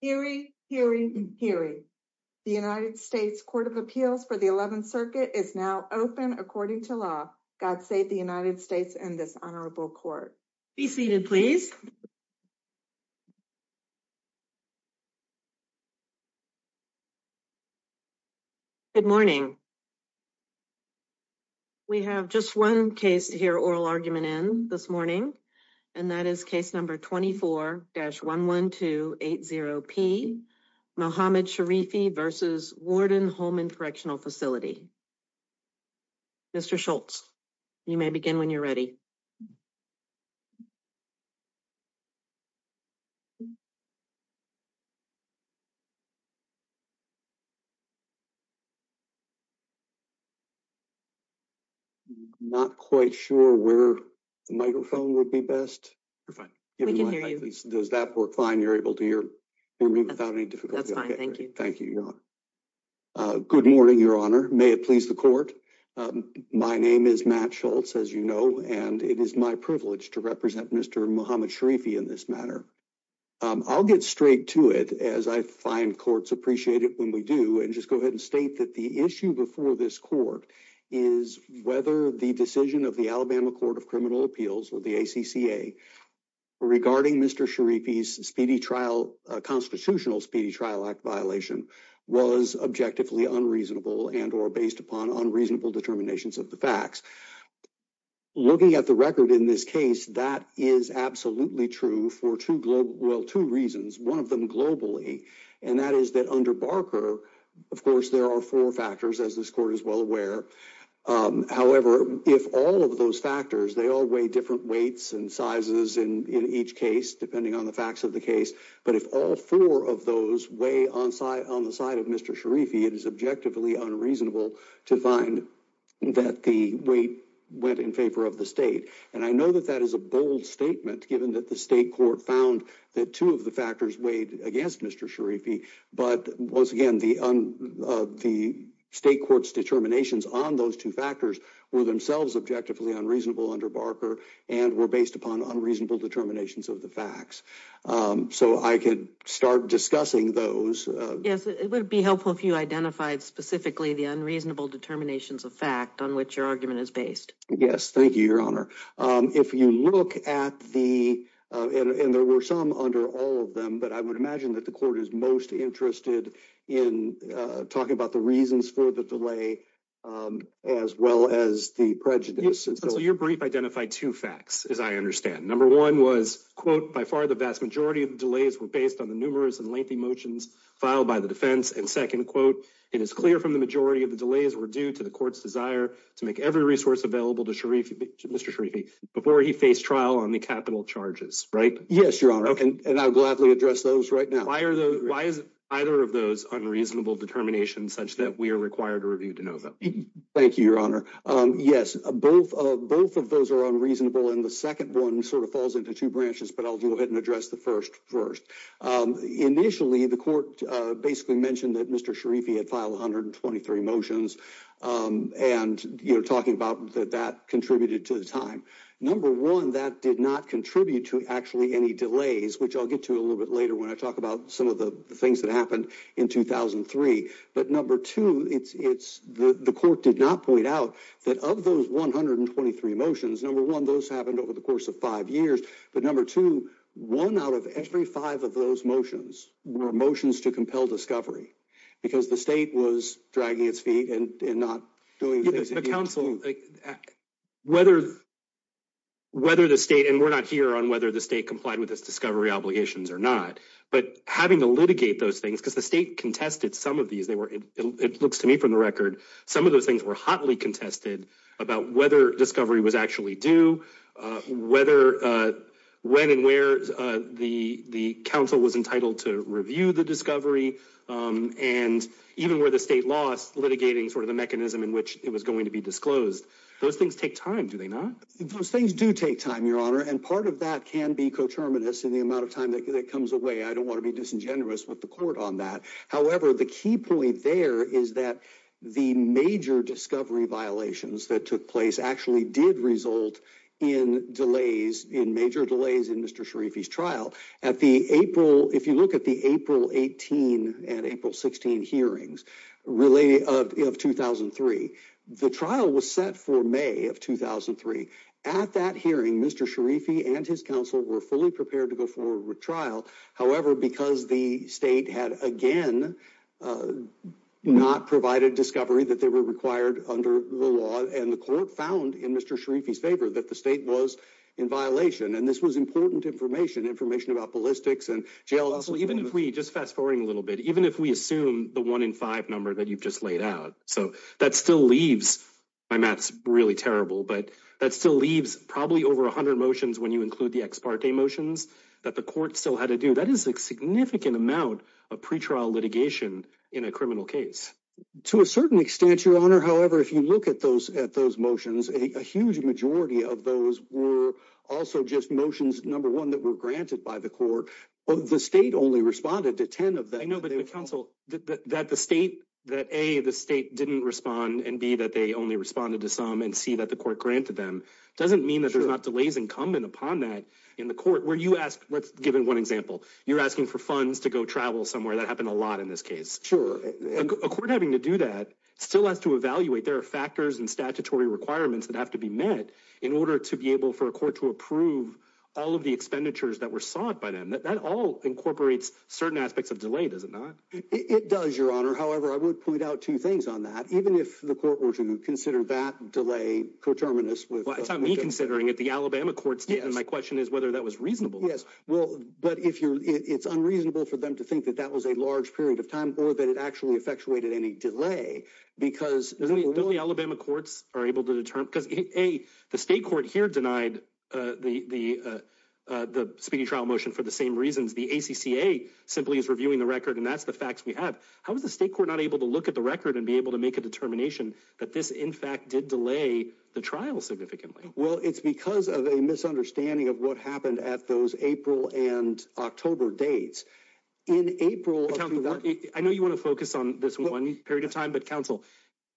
Hearing, hearing, hearing. The United States Court of Appeals for the 11th Circuit is now open according to law. God save the United States and this honorable court. Be seated, please. Good morning. Good morning. We have just one case here oral argument in this morning. And that is case number 24 dash 11280 P Mohammed Sharifi versus warden Holman correctional facility. Mr Schultz, you may begin when you're ready. Not quite sure where the microphone would be best. Fine. Does that work fine you're able to hear me without any difficulty. Thank you. Thank you. Good morning, your honor. May it please the court. My name is Matt Schultz, as you know, and it is my privilege to represent Mr Mohammed Sharifi in this matter. I'll get straight to it as I find courts appreciate it when we do and just go ahead and state that the issue before this court is whether the decision of the Alabama Court of Criminal Appeals or the ACCA. Regarding Mr Sharifi speedy trial constitutional speedy trial act violation was objectively unreasonable and or based upon unreasonable determinations of the facts. Looking at the record in this case, that is absolutely true for two global well two reasons, one of them globally, and that is that under Barker, of course, there are four factors as this court is well aware. However, if all of those factors, they all weigh different weights and sizes in each case, depending on the facts of the case. But if all four of those weigh on site on the side of Mr Sharifi, it is objectively unreasonable to find that the weight went in favor of the state. And I know that that is a bold statement, given that the state court found that two of the factors weighed against Mr Sharifi. But once again, the the state court's determinations on those two factors were themselves objectively unreasonable under Barker and were based upon unreasonable determinations of the facts. So I could start discussing those. Yes, it would be helpful if you identified specifically the unreasonable determinations of fact on which your argument is based. Yes. Thank you, Your Honor. If you look at the and there were some under all of them, but I would imagine that the court is most interested in talking about the reasons for the delay as well as the prejudice. So your brief identified two facts, as I understand. Number one was, quote, by far the vast majority of delays were based on the numerous and lengthy motions filed by the defense. And second quote, it is clear from the majority of the delays were due to the court's desire to make every resource available to Sharifi, Mr Sharifi, before he faced trial on the capital charges. Right? Yes, Your Honor. And I'll gladly address those right now. Why are those why is either of those unreasonable determinations such that we are required to review to know that? Thank you, Your Honor. Yes, both of both of those are unreasonable. And the second one sort of falls into two branches. But I'll go ahead and address the first first. Initially, the court basically mentioned that Mr Sharifi had filed one hundred and twenty three motions. And you're talking about that that contributed to the time. Number one, that did not contribute to actually any delays, which I'll get to a little bit later when I talk about some of the things that happened in 2003. But number two, it's it's the court did not point out that of those one hundred and twenty three motions. Number one, those happened over the course of five years. But number two, one out of every five of those motions were motions to compel discovery because the state was dragging its feet and not doing it. So whether whether the state and we're not here on whether the state complied with this discovery obligations or not, but having to litigate those things because the state contested some of these, they were it looks to me from the record. Some of those things were hotly contested about whether discovery was actually do whether when and where the the council was entitled to review the discovery. And even where the state laws litigating sort of the mechanism in which it was going to be disclosed. Those things take time, do they not? Those things do take time, your honor. And part of that can be coterminous in the amount of time that comes away. I don't want to be disingenuous with the court on that. However, the key point there is that the major discovery violations that took place actually did result in delays in major delays in Mr Sharifi's trial at the April. If you look at the April 18 and April 16 hearings relating of 2003, the trial was set for May of 2003. At that hearing, Mr Sharifi and his counsel were fully prepared to go forward with trial. However, because the state had again not provided discovery that they were required under the law and the court found in Mr Sharifi's favor that the state was in violation. And this was important information, information about ballistics and jail. Also, even if we just fast forwarding a little bit, even if we assume the one in five number that you've just laid out. So that still leaves my math's really terrible. But that still leaves probably over 100 motions when you include the ex parte motions that the court still had to do. That is a significant amount of pretrial litigation in a criminal case. To a certain extent, Your Honor. However, if you look at those at those motions, a huge majority of those were also just motions. Number one, that were granted by the court. The state only responded to 10 of that. I know, but counsel that the state that a the state didn't respond and be that they only responded to some and see that the court granted them doesn't mean that there's not delays incumbent upon that in the court where you ask. Let's give him one example. You're asking for funds to go travel somewhere that happened a lot in this case. Sure. A court having to do that still has to evaluate their factors and statutory requirements that have to be met in order to be able for a court to approve all of the expenditures that were sought by them. That all incorporates certain aspects of delay. Does it not? It does, Your Honor. However, I would point out two things on that. Even if the court were to consider that delay coterminous with me considering it, the Alabama courts did. And my question is whether that was reasonable. Yes. Well, but if you're it's unreasonable for them to think that that was a large period of time or that it actually effectuated any delay because the Alabama courts are able to determine because a the state court here denied the speedy trial motion for the same reasons. The ACCA simply is reviewing the record, and that's the facts we have. How is the state court not able to look at the record and be able to make a determination that this, in fact, did delay the trial significantly? Well, it's because of a misunderstanding of what happened at those April and October dates in April. I know you want to focus on this one period of time, but counsel,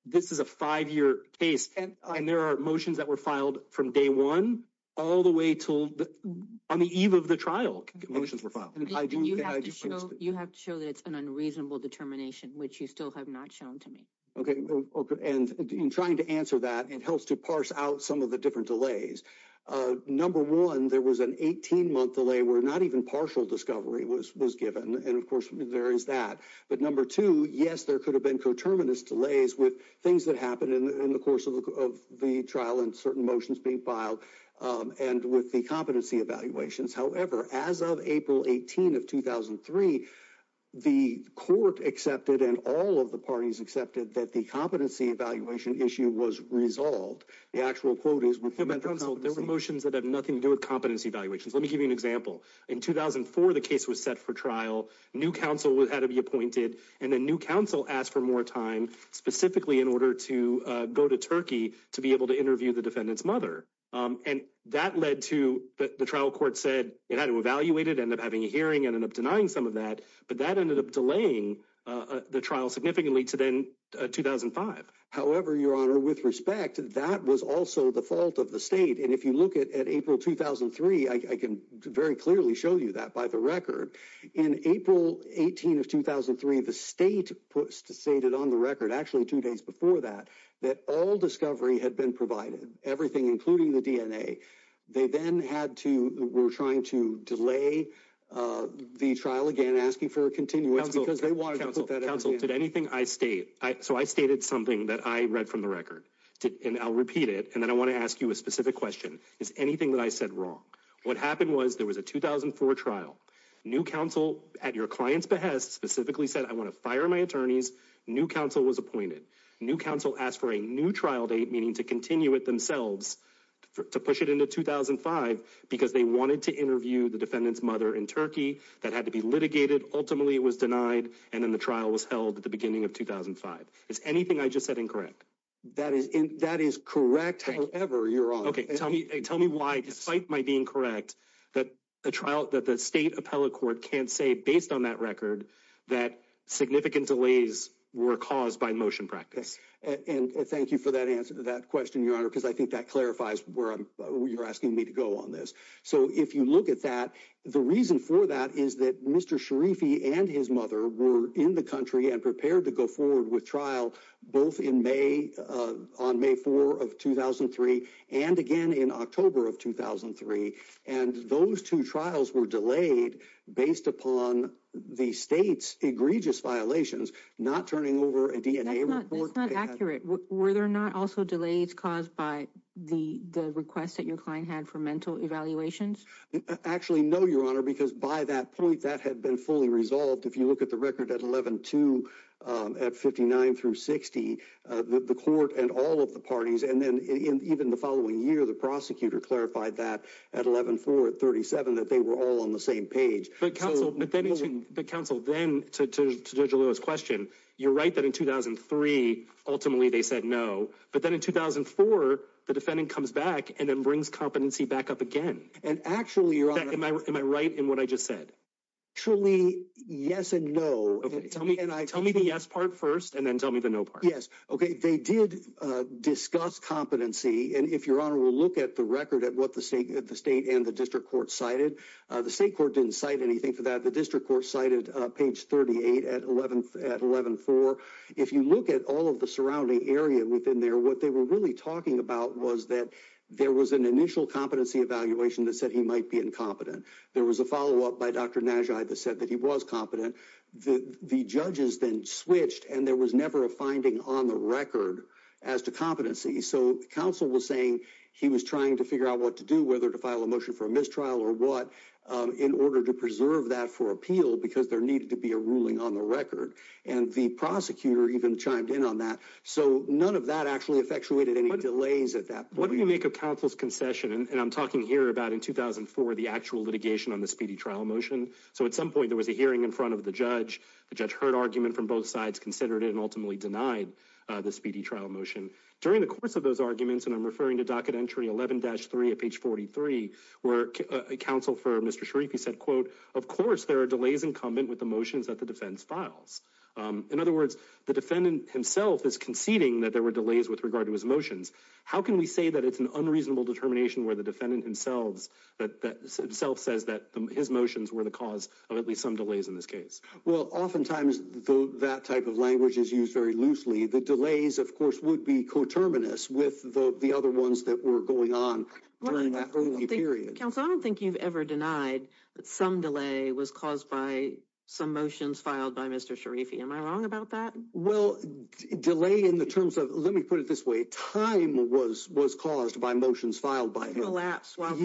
this is a five year case. And there are motions that were filed from day one all the way to on the eve of the trial. Motions were filed. You have to show that it's an unreasonable determination, which you still have not shown to me. OK. And in trying to answer that, it helps to parse out some of the different delays. Number one, there was an 18 month delay where not even partial discovery was was given. And of course, there is that. But number two, yes, there could have been coterminous delays with things that happened in the course of the trial and certain motions being filed. And with the competency evaluations, however, as of April 18 of 2003, the court accepted and all of the parties accepted that the competency evaluation issue was resolved. The actual quote is there were motions that have nothing to do with competency evaluations. Let me give you an example. In 2004, the case was set for trial. New counsel had to be appointed and a new counsel asked for more time specifically in order to go to Turkey to be able to interview the defendant's mother. And that led to the trial. Court said it had to evaluate it, end up having a hearing and end up denying some of that. But that ended up delaying the trial significantly to then 2005. However, your honor, with respect to that was also the fault of the state. And if you look at April 2003, I can very clearly show you that by the record. In April 18 of 2003, the state stated on the record, actually two days before that, that all discovery had been provided. Everything, including the DNA. They then had to. We're trying to delay the trial again, asking for a continue. Because they want counsel to anything I state. So I stated something that I read from the record and I'll repeat it. And then I want to ask you a specific question. Is anything that I said wrong? What happened was there was a 2004 trial. New counsel at your client's behest specifically said, I want to fire my attorneys. New counsel was appointed. New counsel asked for a new trial date, meaning to continue it themselves to push it into 2005. Because they wanted to interview the defendant's mother in Turkey that had to be litigated. Ultimately, it was denied. And then the trial was held at the beginning of 2005. Is anything I just said incorrect? That is that is correct. However, you're on. Tell me, tell me why, despite my being correct, that a trial that the state appellate court can't say based on that record that significant delays were caused by motion practice. And thank you for that answer to that question, Your Honor, because I think that clarifies where you're asking me to go on this. So if you look at that, the reason for that is that Mr. Sharifi and his mother were in the country and prepared to go forward with trial both in May on May 4 of 2003 and again in October of 2003. And those two trials were delayed based upon the state's egregious violations, not turning over a DNA report. That's not accurate. Were there not also delays caused by the request that your client had for mental evaluations? Actually, no, Your Honor, because by that point that had been fully resolved. If you look at the record at 11 to at 59 through 60, the court and all of the parties and then even the following year, the prosecutor clarified that at 11 for 37, that they were all on the same page. But counsel, then to Judge Alois' question, you're right that in 2003, ultimately, they said no. But then in 2004, the defendant comes back and then brings competency back up again. And actually, Your Honor. Am I right in what I just said? Truly, yes and no. Tell me the yes part first and then tell me the no part. Yes. Okay. They did discuss competency. And if Your Honor will look at the record at what the state and the district court cited, the state court didn't cite anything for that. The district court cited page 38 at 11 at 11 for. If you look at all of the surrounding area within there, what they were really talking about was that there was an initial competency evaluation that said he might be incompetent. There was a follow up by Dr. Najai that said that he was competent. The judges then switched and there was never a finding on the record as to competency. So counsel was saying he was trying to figure out what to do, whether to file a motion for a mistrial or what, in order to preserve that for appeal because there needed to be a ruling on the record. And the prosecutor even chimed in on that. So none of that actually effectuated any delays at that point. What do you make of counsel's concession? And I'm talking here about in 2004, the actual litigation on the speedy trial motion. So at some point there was a hearing in front of the judge. The judge heard argument from both sides, considered it and ultimately denied the speedy trial motion. During the course of those arguments, and I'm referring to docket entry 11-3 at page 43, where counsel for Mr. Sharifi said, quote, of course, there are delays incumbent with the motions that the defense files. In other words, the defendant himself is conceding that there were delays with regard to his motions. How can we say that it's an unreasonable determination where the defendant himself says that his motions were the cause of at least some delays in this case? Well, oftentimes that type of language is used very loosely. The delays, of course, would be coterminous with the other ones that were going on during that early period. Counsel, I don't think you've ever denied that some delay was caused by some motions filed by Mr. Sharifi. Am I wrong about that? Well, delay in the terms of let me put it this way. Time was was caused by motions filed by collapse while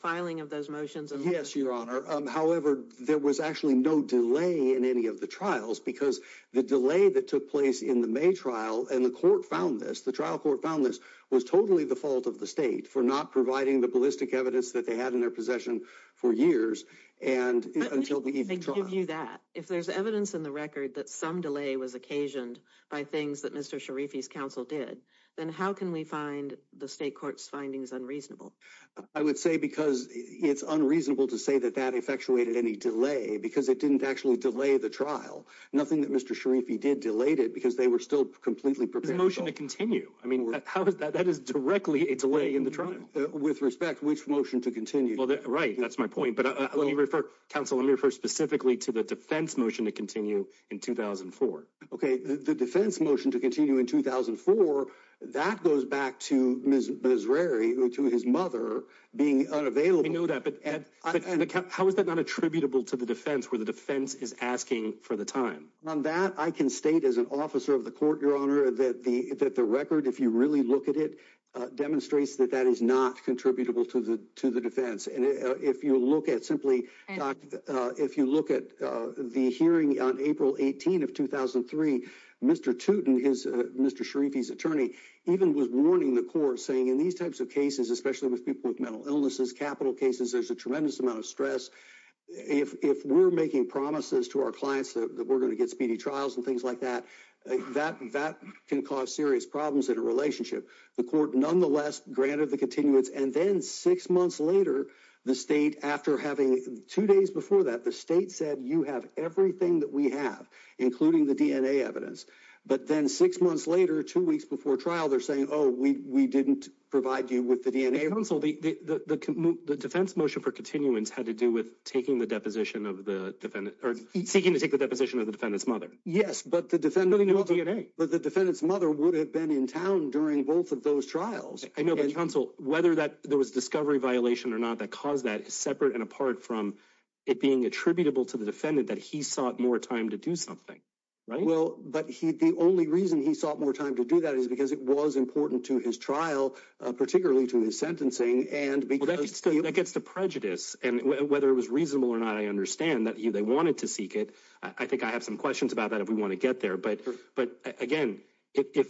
filing of those motions. Yes, Your Honor. However, there was actually no delay in any of the trials because the delay that took place in the May trial and the court found this. The trial court found this was totally the fault of the state for not providing the ballistic evidence that they had in their possession for years. And until we give you that, if there's evidence in the record that some delay was occasioned by things that Mr. Sharifi's counsel did, then how can we find the state court's findings unreasonable? I would say because it's unreasonable to say that that effectuated any delay because it didn't actually delay the trial. Nothing that Mr. Sharifi did delayed it because they were still completely prepared motion to continue. I mean, how is that? That is directly a delay in the trial. With respect, which motion to continue? Well, right. That's my point. But let me refer counsel. Let me refer specifically to the defense motion to continue in 2004. OK, the defense motion to continue in 2004. That goes back to Ms. Rari, to his mother being unavailable. I know that. But how is that not attributable to the defense where the defense is asking for the time? On that, I can state as an officer of the court, your honor, that the that the record, if you really look at it, demonstrates that that is not contributable to the to the defense. And if you look at simply, if you look at the hearing on April 18 of 2003, Mr. Tootin, his Mr. Sharifi's attorney even was warning the court, saying in these types of cases, especially with people with mental illnesses, capital cases, there's a tremendous amount of stress. If we're making promises to our clients that we're going to get speedy trials and things like that, that that can cause serious problems in a relationship. The court nonetheless granted the continuance. And then six months later, the state, after having two days before that, the state said, you have everything that we have, including the DNA evidence. But then six months later, two weeks before trial, they're saying, oh, we didn't provide you with the DNA. And so the defense motion for continuance had to do with taking the deposition of the defendant or seeking to take the deposition of the defendant's mother. Yes, but the defendant, but the defendant's mother would have been in town during both of those trials. I know the counsel, whether that there was discovery violation or not, that caused that separate and apart from it being attributable to the defendant, that he sought more time to do something. Right. Well, but he the only reason he sought more time to do that is because it was important to his trial, particularly to his sentencing. And that gets to prejudice. And whether it was reasonable or not, I understand that they wanted to seek it. I think I have some questions about that if we want to get there. But but again, if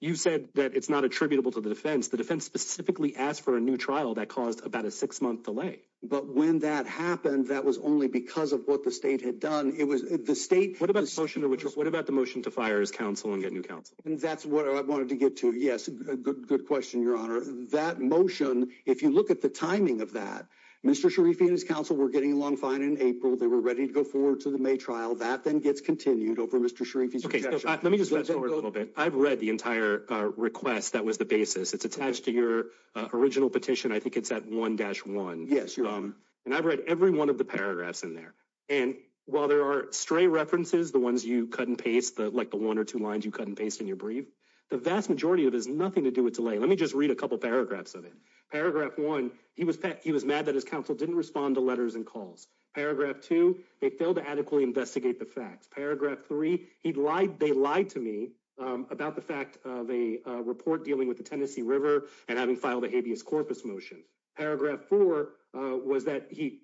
you said that it's not attributable to the defense, the defense specifically asked for a new trial that caused about a six month delay. But when that happened, that was only because of what the state had done. It was the state. What about the motion to fire his counsel and get new counsel? And that's what I wanted to get to. Yes. Good question, Your Honor. That motion, if you look at the timing of that, Mr. Sharifi and his counsel were getting along fine in April. They were ready to go forward to the May trial that then gets continued over Mr. Sharifi. OK, let me just go a little bit. I've read the entire request. That was the basis. It's attached to your original petition. I think it's at one dash one. Yes. And I've read every one of the paragraphs in there. And while there are stray references, the ones you cut and paste, like the one or two lines you cut and paste in your brief, the vast majority of is nothing to do with delay. Let me just read a couple paragraphs of it. Paragraph one. He was he was mad that his counsel didn't respond to letters and calls. Paragraph two. They failed to adequately investigate the facts. Paragraph three. He lied. They lied to me about the fact of a report dealing with the Tennessee River and having filed a habeas corpus motion. Paragraph four was that he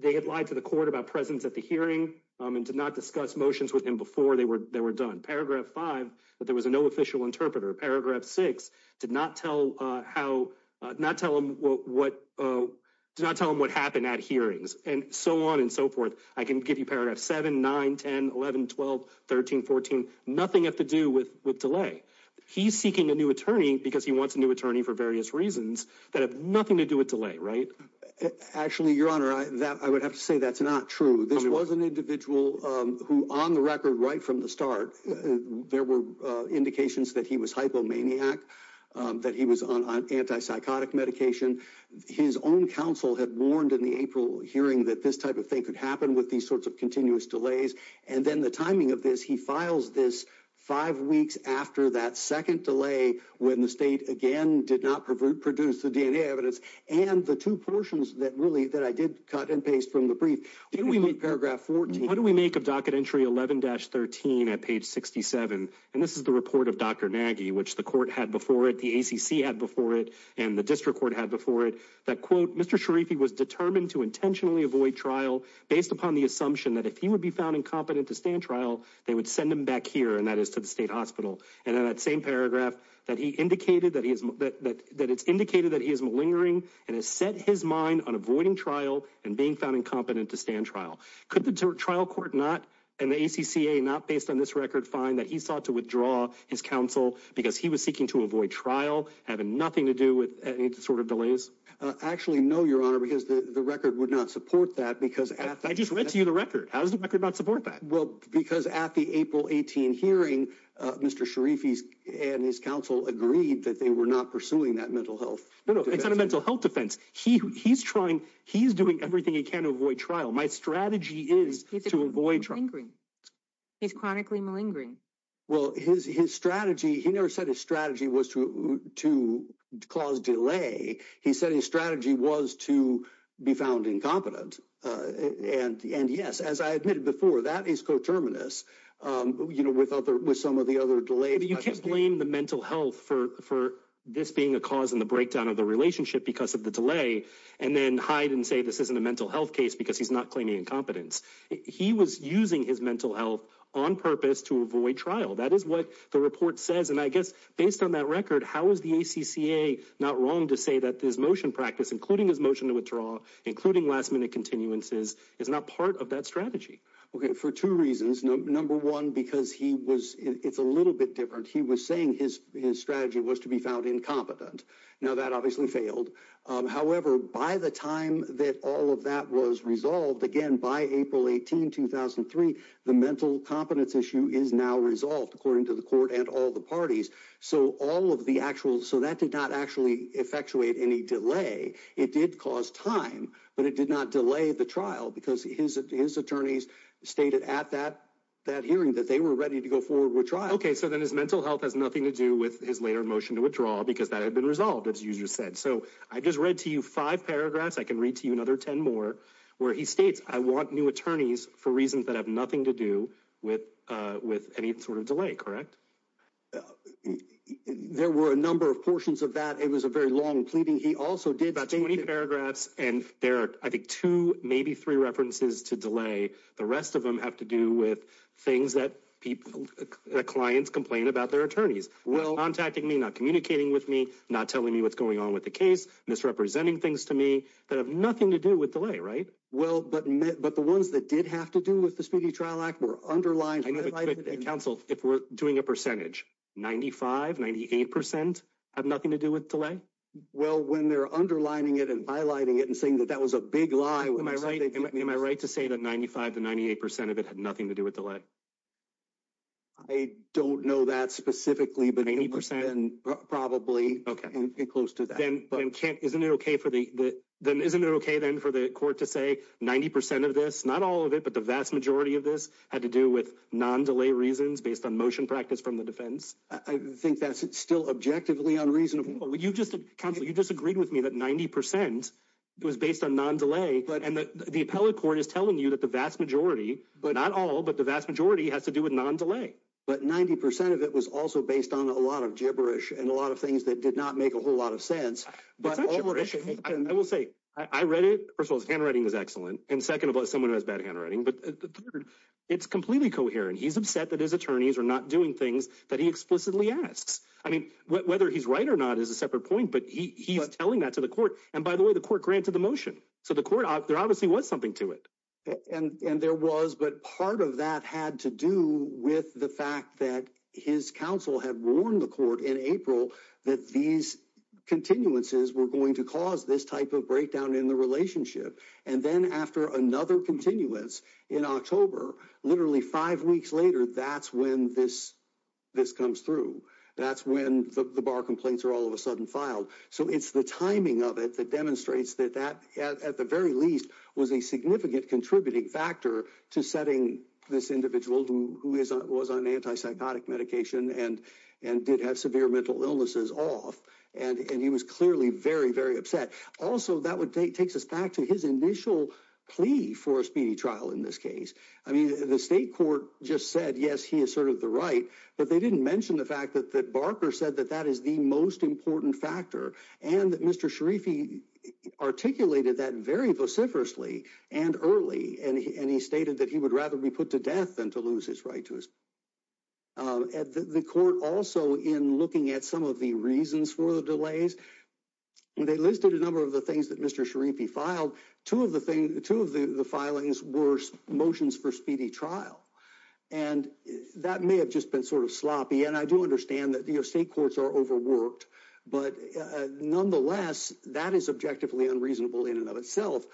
they had lied to the court about presence at the hearing and did not discuss motions with him before they were they were done. Paragraph five, that there was a no official interpreter. Paragraph six did not tell how not tell him what did not tell him what happened at hearings and so on and so forth. I can give you paragraph seven, nine, 10, 11, 12, 13, 14. Nothing to do with with delay. He's seeking a new attorney because he wants a new attorney for various reasons that have nothing to do with delay. Right. Actually, your honor, I would have to say that's not true. This was an individual who on the record right from the start, there were indications that he was hypomaniac, that he was on antipsychotic medication. His own counsel had warned in the April hearing that this type of thing could happen with these sorts of continuous delays. And then the timing of this, he files this five weeks after that second delay, when the state again did not produce the DNA evidence and the two portions that really that I did cut and paste from the brief. We need paragraph 14. What do we make of docket entry 11 dash 13 at page 67? And this is the report of Dr. Nagy, which the court had before it. The ACC had before it and the district court had before it that, quote, Mr. Sharifi was determined to intentionally avoid trial based upon the assumption that if he would be found incompetent to stand trial, they would send him back here. And that is to the state hospital. And then that same paragraph that he indicated that he is that that that it's indicated that he is malingering and has set his mind on avoiding trial and being found incompetent to stand trial. Could the trial court not and the ACCA not based on this record find that he sought to withdraw his counsel because he was seeking to avoid trial, having nothing to do with any sort of delays? Actually, no, your honor, because the record would not support that because I just read to you the record. How does the record not support that? Well, because at the April 18 hearing, Mr. Sharifi's and his counsel agreed that they were not pursuing that mental health, mental health defense. He he's trying. He's doing everything he can to avoid trial. My strategy is to avoid. He's chronically malingering. Well, his his strategy. He never said his strategy was to to cause delay. He said his strategy was to be found incompetent. And and yes, as I admitted before, that is coterminous. You know, with other with some of the other delays, you can't blame the mental health for for this being a cause in the breakdown of the relationship because of the delay. And then hide and say this isn't a mental health case because he's not claiming incompetence. He was using his mental health on purpose to avoid trial. That is what the report says. And I guess based on that record, how is the ACCA not wrong to say that this motion practice, including his motion to withdraw, including last minute continuances, is not part of that strategy for two reasons. Number one, because he was it's a little bit different. He was saying his his strategy was to be found incompetent. Now, that obviously failed. However, by the time that all of that was resolved again by April 18, 2003, the mental competence issue is now resolved, according to the court and all the parties. So all of the actual so that did not actually effectuate any delay. It did cause time, but it did not delay the trial because his his attorneys stated at that that hearing that they were ready to go forward with trial. OK, so then his mental health has nothing to do with his later motion to withdraw because that had been resolved, as you said. So I just read to you five paragraphs. I can read to you another 10 more where he states I want new attorneys for reasons that have nothing to do with with any sort of delay. Correct. There were a number of portions of that. It was a very long pleading. He also did about 20 paragraphs. And there are, I think, two, maybe three references to delay. The rest of them have to do with things that people, clients complain about their attorneys. Well, contacting me, not communicating with me, not telling me what's going on with the case, misrepresenting things to me that have nothing to do with delay. Right. Well, but but the ones that did have to do with the Speedy Trial Act were underlined. And counsel, if we're doing a percentage, 95, 98 percent have nothing to do with delay. Well, when they're underlining it and highlighting it and saying that that was a big lie, am I right? Am I right to say that 95 to 98 percent of it had nothing to do with delay? I don't know that specifically, but 80 percent and probably close to that. But isn't it OK for the then isn't it OK then for the court to say 90 percent of this? Not all of it, but the vast majority of this had to do with non delay reasons based on motion practice from the defense. I think that's still objectively unreasonable. You just you just agreed with me that 90 percent was based on non delay. But the appellate court is telling you that the vast majority, but not all, but the vast majority has to do with non delay. But 90 percent of it was also based on a lot of gibberish and a lot of things that did not make a whole lot of sense. But I will say I read it. First of all, his handwriting is excellent. And second of all, someone who has bad handwriting. But it's completely coherent. He's upset that his attorneys are not doing things that he explicitly asks. I mean, whether he's right or not is a separate point. But he's telling that to the court. And by the way, the court granted the motion to the court. There obviously was something to it. And there was. But part of that had to do with the fact that his counsel had warned the court in April that these continuances were going to cause this type of breakdown in the relationship. And then after another continuance in October, literally five weeks later, that's when this this comes through. That's when the bar complaints are all of a sudden filed. So it's the timing of it that demonstrates that that at the very least was a significant contributing factor to setting this individual who was on antipsychotic medication and and did have severe mental illnesses off. And he was clearly very, very upset. Also, that would take takes us back to his initial plea for a speedy trial in this case. I mean, the state court just said, yes, he asserted the right. But they didn't mention the fact that that Barker said that that is the most important factor. And Mr. Sharifi articulated that very vociferously and early. And he stated that he would rather be put to death than to lose his right to his. At the court also in looking at some of the reasons for the delays, they listed a number of the things that Mr. Sharifi filed. Two of the things, two of the filings were motions for speedy trial. And that may have just been sort of sloppy. And I do understand that the state courts are overworked. But nonetheless, that is objectively unreasonable in and of itself.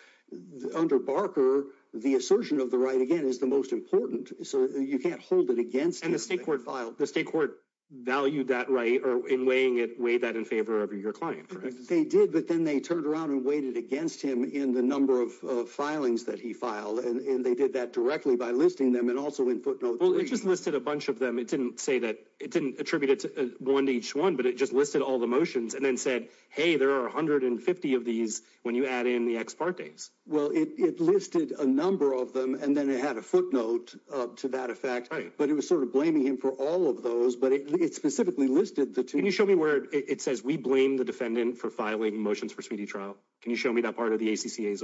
Under Barker, the assertion of the right again is the most important. So you can't hold it against the state court filed. The state court valued that right or in weighing it. Weigh that in favor of your client. They did, but then they turned around and waited against him in the number of filings that he filed. And they did that directly by listing them. Well, it just listed a bunch of them. It didn't say that it didn't attribute one to each one. But it just listed all the motions and then said, hey, there are 150 of these when you add in the ex partes. Well, it listed a number of them and then it had a footnote to that effect. But it was sort of blaming him for all of those. But it specifically listed the two. Can you show me where it says we blame the defendant for filing motions for speedy trial? Can you show me that part of the ACCA?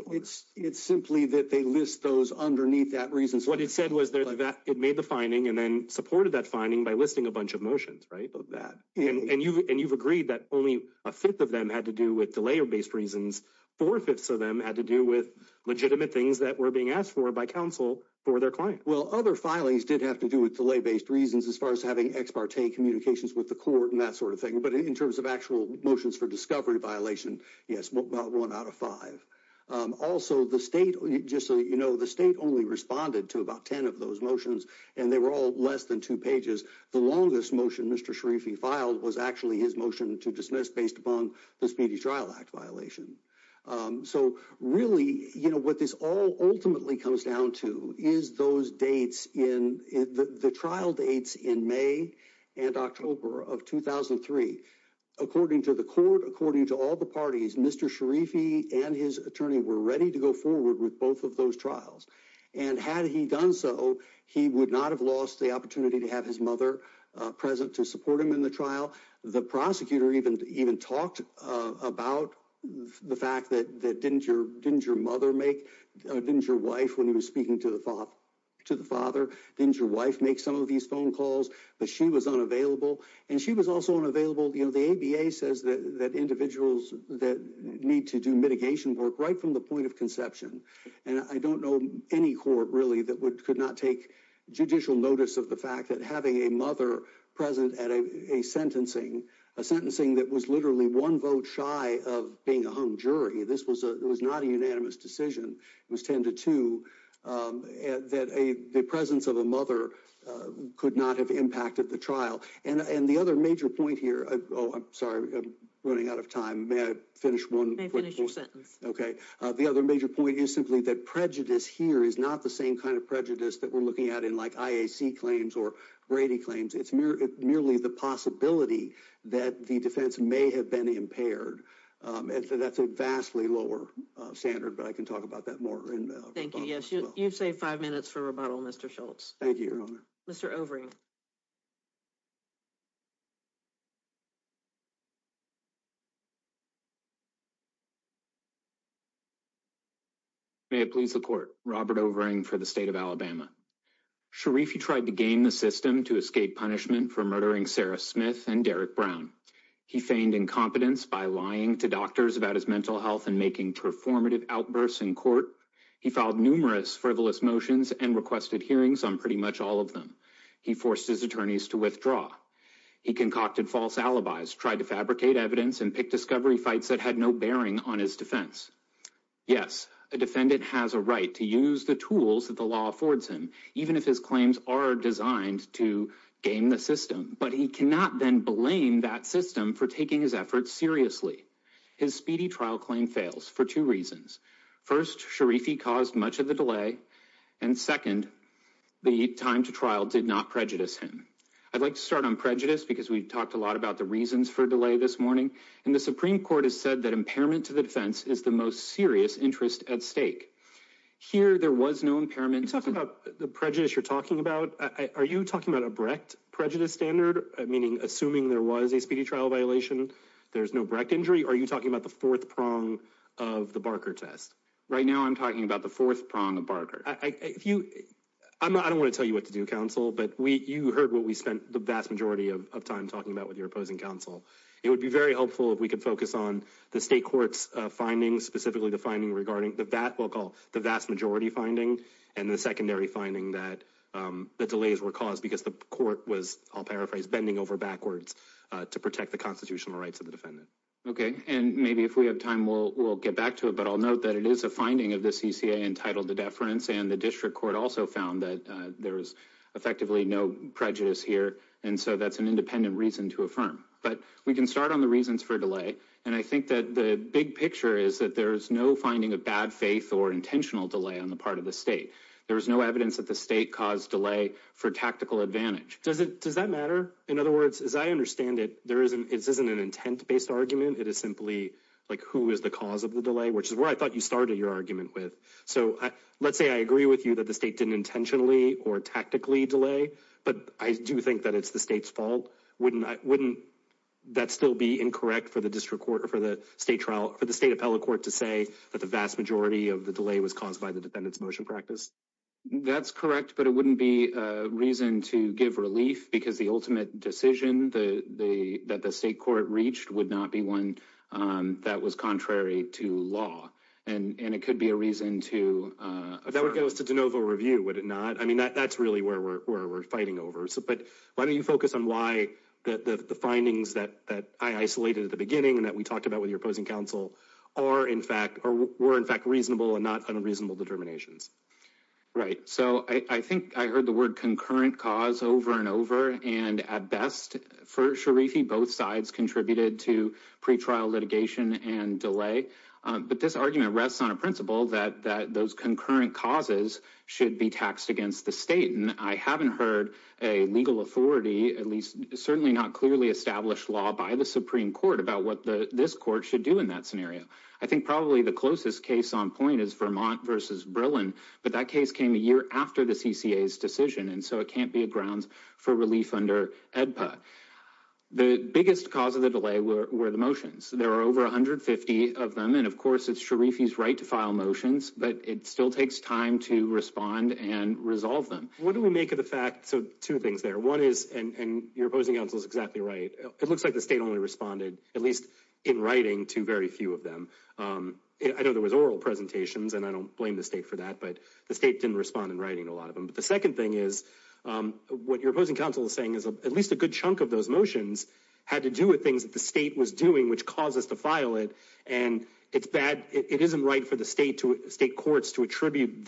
It's simply that they list those underneath that reason. What it said was that it made the finding and then supported that finding by listing a bunch of motions. And you've agreed that only a fifth of them had to do with delay based reasons. Four fifths of them had to do with legitimate things that were being asked for by counsel for their client. Well, other filings did have to do with delay based reasons as far as having ex parte communications with the court and that sort of thing. But in terms of actual motions for discovery violation. Yes, one out of five. Also, the state just so you know, the state only responded to about 10 of those motions and they were all less than two pages. The longest motion Mr. Sharifi filed was actually his motion to dismiss based upon the Speedy Trial Act violation. So really, you know what this all ultimately comes down to is those dates in the trial dates in May and October of 2003. According to the court, according to all the parties, Mr. Sharifi and his attorney were ready to go forward with both of those trials. And had he done so, he would not have lost the opportunity to have his mother present to support him in the trial. The prosecutor even even talked about the fact that that didn't your didn't your mother make didn't your wife when he was speaking to the father to the father? Didn't your wife make some of these phone calls? But she was unavailable and she was also unavailable. You know, the ABA says that that individuals that need to do mitigation work right from the point of conception. And I don't know any court really that could not take judicial notice of the fact that having a mother present at a sentencing, a sentencing that was literally one vote shy of being a hung jury. This was it was not a unanimous decision. It was ten to two that the presence of a mother could not have impacted the trial. And the other major point here. Oh, I'm sorry. Running out of time. May I finish one sentence? OK. The other major point is simply that prejudice here is not the same kind of prejudice that we're looking at in like IAC claims or Brady claims. It's merely the possibility that the defense may have been impaired. And so that's a vastly lower standard. But I can talk about that more. Thank you. Yes. You've saved five minutes for rebuttal, Mr. Schultz. Thank you, Your Honor. Mr. Overing. May it please the court. Robert Overing for the state of Alabama. Sharifi tried to gain the system to escape punishment for murdering Sarah Smith and Derek Brown. He feigned incompetence by lying to doctors about his mental health and making performative outbursts in court. He filed numerous frivolous motions and requested hearings on pretty much all of them. He forced his attorneys to withdraw. He concocted false alibis, tried to fabricate evidence and pick discovery fights that had no bearing on his defense. Yes, a defendant has a right to use the tools that the law affords him, even if his claims are designed to gain the system. But he cannot then blame that system for taking his efforts seriously. His speedy trial claim fails for two reasons. First, Sharifi caused much of the delay. And second, the time to trial did not prejudice him. I'd like to start on prejudice because we've talked a lot about the reasons for delay this morning. And the Supreme Court has said that impairment to the defense is the most serious interest at stake. Here, there was no impairment. Are you talking about the prejudice you're talking about? Are you talking about a Brecht prejudice standard, meaning assuming there was a speedy trial violation, there's no Brecht injury? Are you talking about the fourth prong of the Barker test? Right now, I'm talking about the fourth prong of Barker. I don't want to tell you what to do, counsel, but you heard what we spent the vast majority of time talking about with your opposing counsel. It would be very helpful if we could focus on the state court's findings, specifically the finding regarding the vast majority finding and the secondary finding that the delays were caused because the court was, I'll paraphrase, bending over backwards to protect the constitutional rights of the defendant. Okay. And maybe if we have time, we'll get back to it. But I'll note that it is a finding of the CCA entitled to deference. And the district court also found that there was effectively no prejudice here. And so that's an independent reason to affirm. But we can start on the reasons for delay. And I think that the big picture is that there is no finding of bad faith or intentional delay on the part of the state. There is no evidence that the state caused delay for tactical advantage. Does that matter? In other words, as I understand it, this isn't an intent-based argument. It is simply, like, who is the cause of the delay, which is where I thought you started your argument with. So let's say I agree with you that the state didn't intentionally or tactically delay, but I do think that it's the state's fault. Wouldn't that still be incorrect for the state appellate court to say that the vast majority of the delay was caused by the defendant's motion practice? That's correct. But it wouldn't be a reason to give relief because the ultimate decision that the state court reached would not be one that was contrary to law. And it could be a reason to affirm. That would go to de novo review, would it not? I mean, that's really where we're fighting over. But why don't you focus on why the findings that I isolated at the beginning and that we talked about with your opposing counsel were, in fact, reasonable and not unreasonable determinations. Right. So I think I heard the word concurrent cause over and over. And at best, for Sharifi, both sides contributed to pretrial litigation and delay. But this argument rests on a principle that those concurrent causes should be taxed against the state. And I haven't heard a legal authority, at least certainly not clearly established law by the Supreme Court about what this court should do in that scenario. I think probably the closest case on point is Vermont versus Berlin. But that case came a year after the CCA's decision. And so it can't be a grounds for relief under EDPA. The biggest cause of the delay were the motions. There are over 150 of them. And of course, it's Sharifi's right to file motions. But it still takes time to respond and resolve them. What do we make of the fact? So two things there. One is, and your opposing counsel is exactly right, it looks like the state only responded, at least in writing, to very few of them. I know there was oral presentations, and I don't blame the state for that. But the state didn't respond in writing to a lot of them. But the second thing is, what your opposing counsel is saying is at least a good chunk of those motions had to do with things that the state was doing, which caused us to file it. And it's bad. It isn't right for the state courts to attribute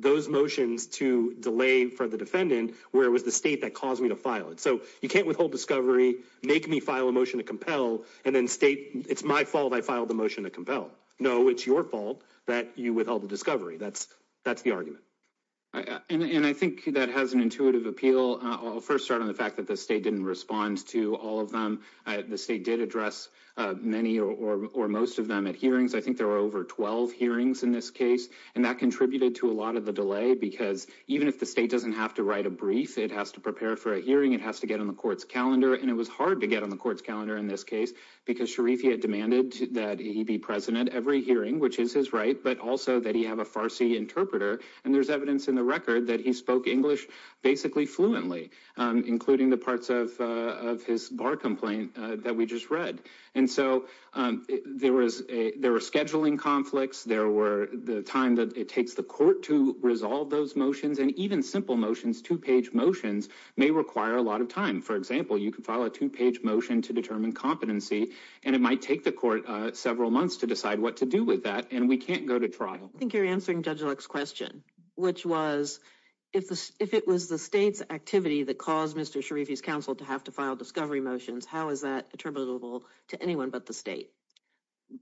those motions to delay for the defendant, where it was the state that caused me to file it. So you can't withhold discovery, make me file a motion to compel, and then state it's my fault I filed the motion to compel. No, it's your fault that you withheld the discovery. That's the argument. And I think that has an intuitive appeal. I'll first start on the fact that the state didn't respond to all of them. The state did address many or most of them at hearings. I think there were over 12 hearings in this case. And that contributed to a lot of the delay, because even if the state doesn't have to write a brief, it has to prepare for a hearing, it has to get on the court's calendar. And it was hard to get on the court's calendar in this case, because Sharifi had demanded that he be present at every hearing, which is his right, but also that he have a Farsi interpreter. And there's evidence in the record that he spoke English basically fluently, including the parts of his bar complaint that we just read. And so there was a there were scheduling conflicts. There were the time that it takes the court to resolve those motions and even simple motions. Two page motions may require a lot of time. For example, you can file a two page motion to determine competency, and it might take the court several months to decide what to do with that. And we can't go to trial. I think you're answering Judge Luck's question, which was, if it was the state's activity that caused Mr. Sharifi's counsel to have to file discovery motions, how is that attributable to anyone but the state?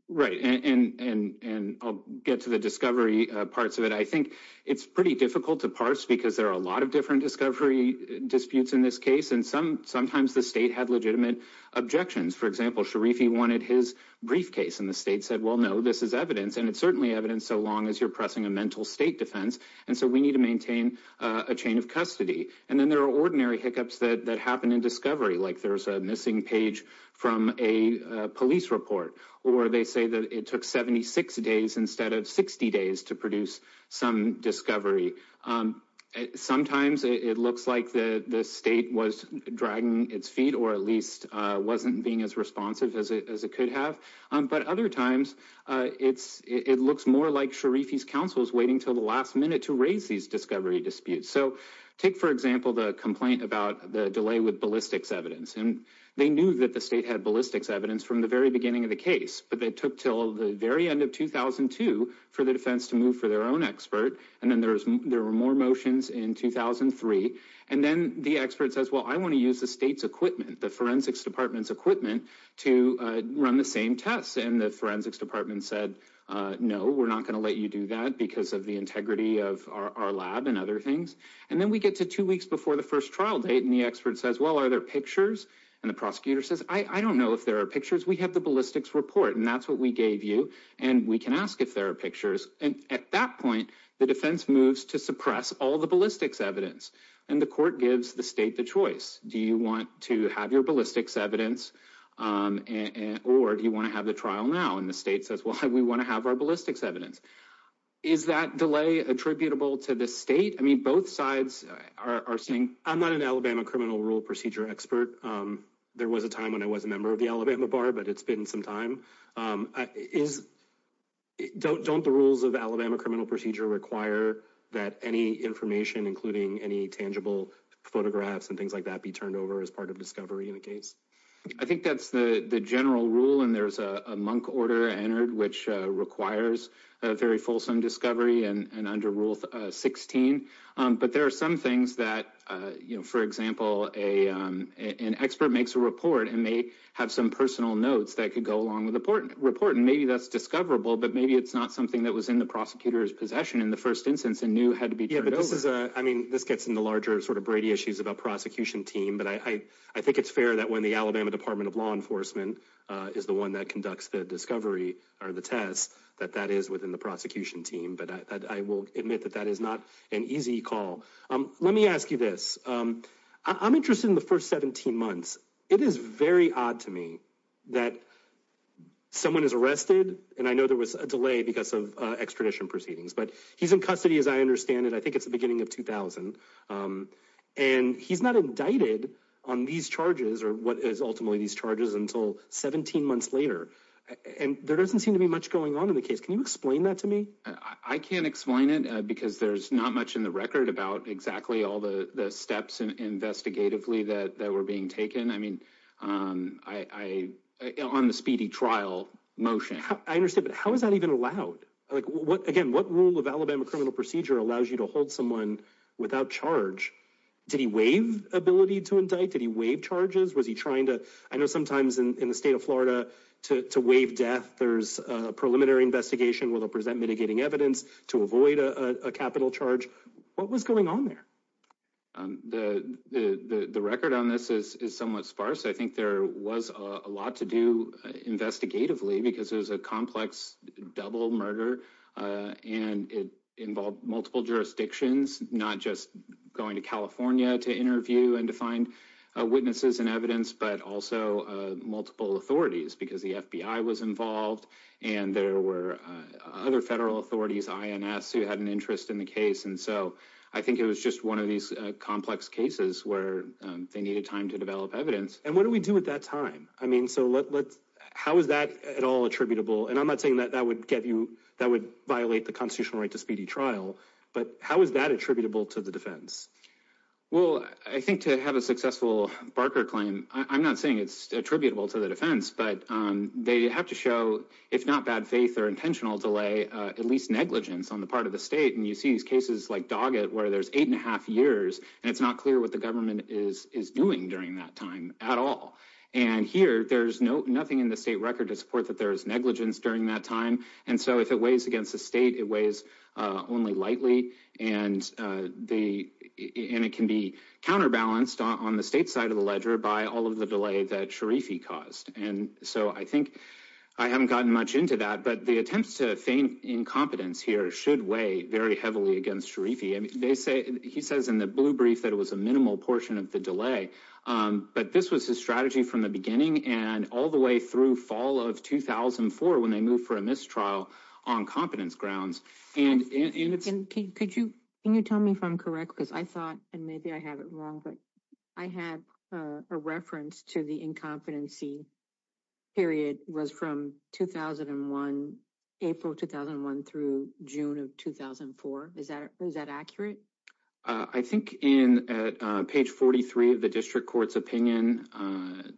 Right. And I'll get to the discovery parts of it. I think it's pretty difficult to parse because there are a lot of different discovery disputes in this case. And some sometimes the state had legitimate objections. For example, Sharifi wanted his briefcase and the state said, well, no, this is evidence. And it's certainly evidence so long as you're pressing a mental state defense. And so we need to maintain a chain of custody. And then there are ordinary hiccups that happen in discovery, like there's a missing page from a police report or they say that it took 76 days instead of 60 days to produce some discovery. Sometimes it looks like the state was dragging its feet or at least wasn't being as responsive as it could have. But other times it's it looks more like Sharifi's counsel is waiting till the last minute to raise these discovery disputes. So take, for example, the complaint about the delay with ballistics evidence. And they knew that the state had ballistics evidence from the very beginning of the case. But they took till the very end of 2002 for the defense to move for their own expert. And then there was there were more motions in 2003. And then the expert says, well, I want to use the state's equipment, the forensics department's equipment to run the same tests. And the forensics department said, no, we're not going to let you do that because of the integrity of our lab and other things. And then we get to two weeks before the first trial date. And the expert says, well, are there pictures? And the prosecutor says, I don't know if there are pictures. We have the ballistics report. And that's what we gave you. And we can ask if there are pictures. And at that point, the defense moves to suppress all the ballistics evidence. And the court gives the state the choice. Do you want to have your ballistics evidence? Or do you want to have the trial now? And the state says, well, we want to have our ballistics evidence. Is that delay attributable to the state? I mean, both sides are saying I'm not an Alabama criminal rule procedure expert. There was a time when I was a member of the Alabama bar, but it's been some time. Don't the rules of Alabama criminal procedure require that any information, including any tangible photographs and things like that, be turned over as part of discovery in the case? I think that's the general rule. And there's a monk order entered, which requires a very fulsome discovery. And under rule 16. But there are some things that, you know, for example, an expert makes a report and may have some personal notes that could go along with the report. And maybe that's discoverable, but maybe it's not something that was in the prosecutor's possession in the first instance and knew had to be. I mean, this gets into larger sort of Brady issues about prosecution team. But I think it's fair that when the Alabama Department of Law Enforcement is the one that conducts the discovery or the test, that that is within the prosecution team. But I will admit that that is not an easy call. Let me ask you this. I'm interested in the first 17 months. It is very odd to me that someone is arrested and I know there was a delay because of extradition proceedings, but he's in custody, as I understand it. I think it's the beginning of 2000. And he's not indicted on these charges or what is ultimately these charges until 17 months later. And there doesn't seem to be much going on in the case. Can you explain that to me? I can't explain it because there's not much in the record about exactly all the steps and investigatively that that were being taken. I mean, I on the speedy trial motion, I understand. But how is that even allowed? Like what? Again, what rule of Alabama criminal procedure allows you to hold someone without charge? Did he waive ability to indict? Did he waive charges? Was he trying to I know sometimes in the state of Florida to waive death? There's a preliminary investigation will present mitigating evidence to avoid a capital charge. What was going on there? The record on this is somewhat sparse. I think there was a lot to do investigatively because there's a complex double murder and it involved multiple jurisdictions, not just going to California to interview and to find witnesses and evidence, but also multiple authorities because the FBI was involved and there were other federal authorities, INS, who had an interest in the case. And so I think it was just one of these complex cases where they needed time to develop evidence. And what do we do at that time? I mean, so let's how is that at all attributable? And I'm not saying that that would get you that would violate the constitutional right to speedy trial. But how is that attributable to the defense? Well, I think to have a successful Barker claim, I'm not saying it's attributable to the defense, but they have to show, if not bad faith or intentional delay, at least negligence on the part of the state. And you see these cases like Doggett where there's eight and a half years and it's not clear what the government is is doing during that time at all. And here there's no nothing in the state record to support that there is negligence during that time. And so if it weighs against the state, it weighs only lightly. And the and it can be counterbalanced on the state side of the ledger by all of the delay that Sharifi caused. And so I think I haven't gotten much into that. But the attempts to feign incompetence here should weigh very heavily against Sharifi. And they say he says in the blue brief that it was a minimal portion of the delay. But this was his strategy from the beginning and all the way through fall of 2004 when they move for a mistrial on competence grounds. And can you tell me if I'm correct, because I thought and maybe I have it wrong, but I had a reference to the incompetency period was from 2001, April 2001, through June of 2004. Is that is that accurate? I think in page 43 of the district court's opinion,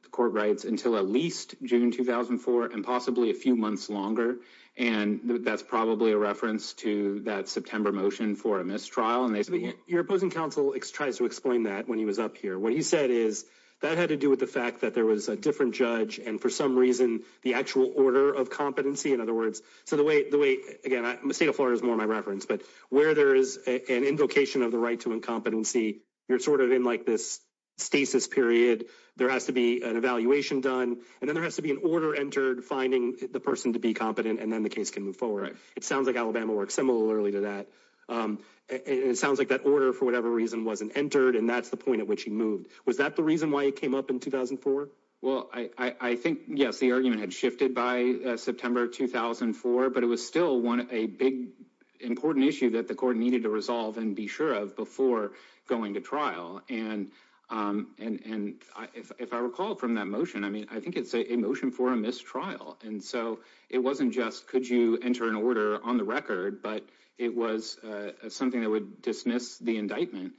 the court writes until at least June 2004 and possibly a few months longer. And that's probably a reference to that September motion for a mistrial. And your opposing counsel tries to explain that when he was up here, what he said is that had to do with the fact that there was a different judge. And for some reason, the actual order of competency, in other words. So the way the way again, the state of Florida is more my reference, but where there is an invocation of the right to incompetency. You're sort of in like this stasis period. There has to be an evaluation done and then there has to be an order entered, finding the person to be competent and then the case can move forward. It sounds like Alabama works similarly to that. It sounds like that order, for whatever reason, wasn't entered. And that's the point at which he moved. Was that the reason why he came up in 2004? Well, I think, yes, the argument had shifted by September 2004, but it was still one of a big, important issue that the court needed to resolve and be sure of before going to trial. And and if I recall from that motion, I mean, I think it's a motion for a mistrial. And so it wasn't just could you enter an order on the record, but it was something that would dismiss the indictment.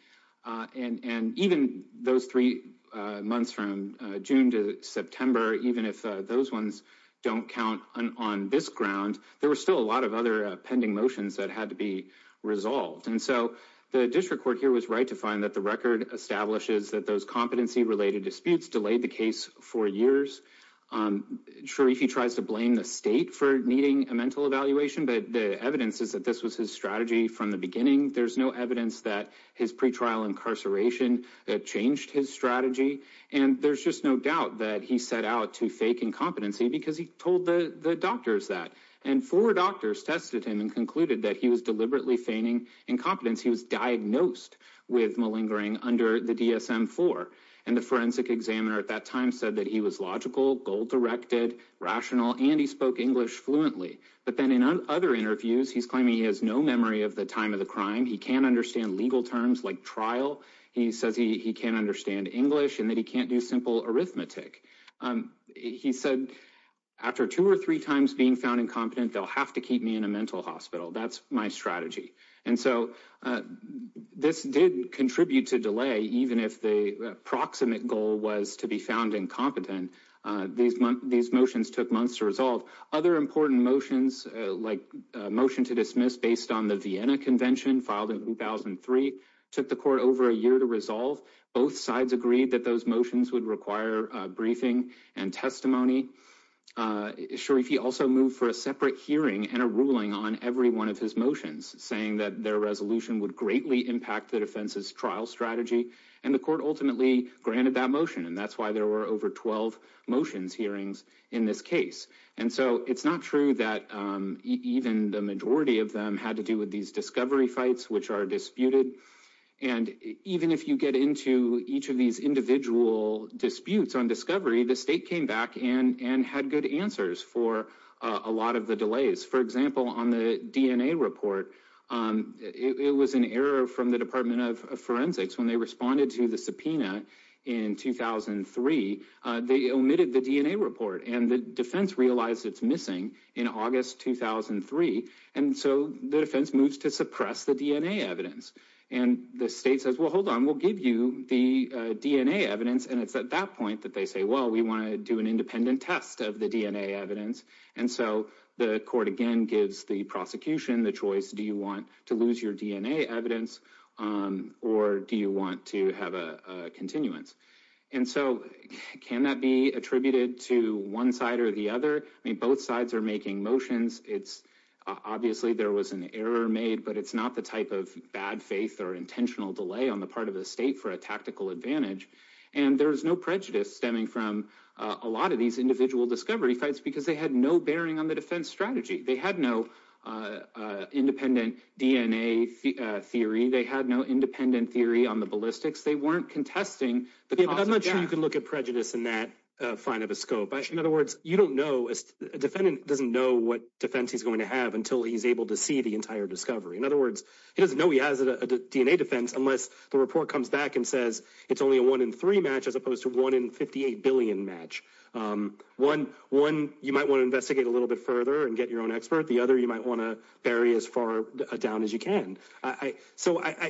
And even those three months from June to September, even if those ones don't count on this ground, there were still a lot of other pending motions that had to be resolved. And so the district court here was right to find that the record establishes that those competency related disputes delayed the case for years. I'm sure if he tries to blame the state for needing a mental evaluation, but the evidence is that this was his strategy from the beginning. There's no evidence that his pretrial incarceration changed his strategy. And there's just no doubt that he set out to fake incompetency because he told the doctors that. And four doctors tested him and concluded that he was deliberately feigning incompetence. He was diagnosed with malingering under the DSM four. And the forensic examiner at that time said that he was logical, goal directed, rational, and he spoke English fluently. But then in other interviews, he's claiming he has no memory of the time of the crime. He can't understand legal terms like trial. He says he can't understand English and that he can't do simple arithmetic. He said after two or three times being found incompetent, they'll have to keep me in a mental hospital. That's my strategy. And so this did contribute to delay. Proximate goal was to be found incompetent. These these motions took months to resolve. Other important motions, like a motion to dismiss based on the Vienna Convention, filed in 2003, took the court over a year to resolve. Both sides agreed that those motions would require briefing and testimony. Sharifi also moved for a separate hearing and a ruling on every one of his motions, saying that their resolution would greatly impact the defense's trial strategy. And the court ultimately granted that motion. And that's why there were over 12 motions hearings in this case. And so it's not true that even the majority of them had to do with these discovery fights which are disputed. And even if you get into each of these individual disputes on discovery, the state came back and had good answers for a lot of the delays. For example, on the DNA report, it was an error from the Department of Forensics. When they responded to the subpoena in 2003, they omitted the DNA report and the defense realized it's missing in August 2003. And so the defense moves to suppress the DNA evidence. And the state says, well, hold on, we'll give you the DNA evidence. And it's at that point that they say, well, we want to do an independent test of the DNA evidence. And so the court again gives the prosecution the choice. Do you want to lose your DNA evidence or do you want to have a continuance? And so can that be attributed to one side or the other? I mean, both sides are making motions. Obviously, there was an error made, but it's not the type of bad faith or intentional delay on the part of the state for a tactical advantage. And there is no prejudice stemming from a lot of these individual discovery fights because they had no bearing on the defense strategy. They had no independent DNA theory. They had no independent theory on the ballistics. They weren't contesting the cause of death. I'm not sure you can look at prejudice in that fine of a scope. In other words, you don't know, a defendant doesn't know what defense he's going to have until he's able to see the entire discovery. In other words, he doesn't know he has a DNA defense unless the report comes back and says it's only a one in three match as opposed to one in 58 billion match. One, you might want to investigate a little bit further and get your own expert. The other, you might want to bury as far down as you can. So I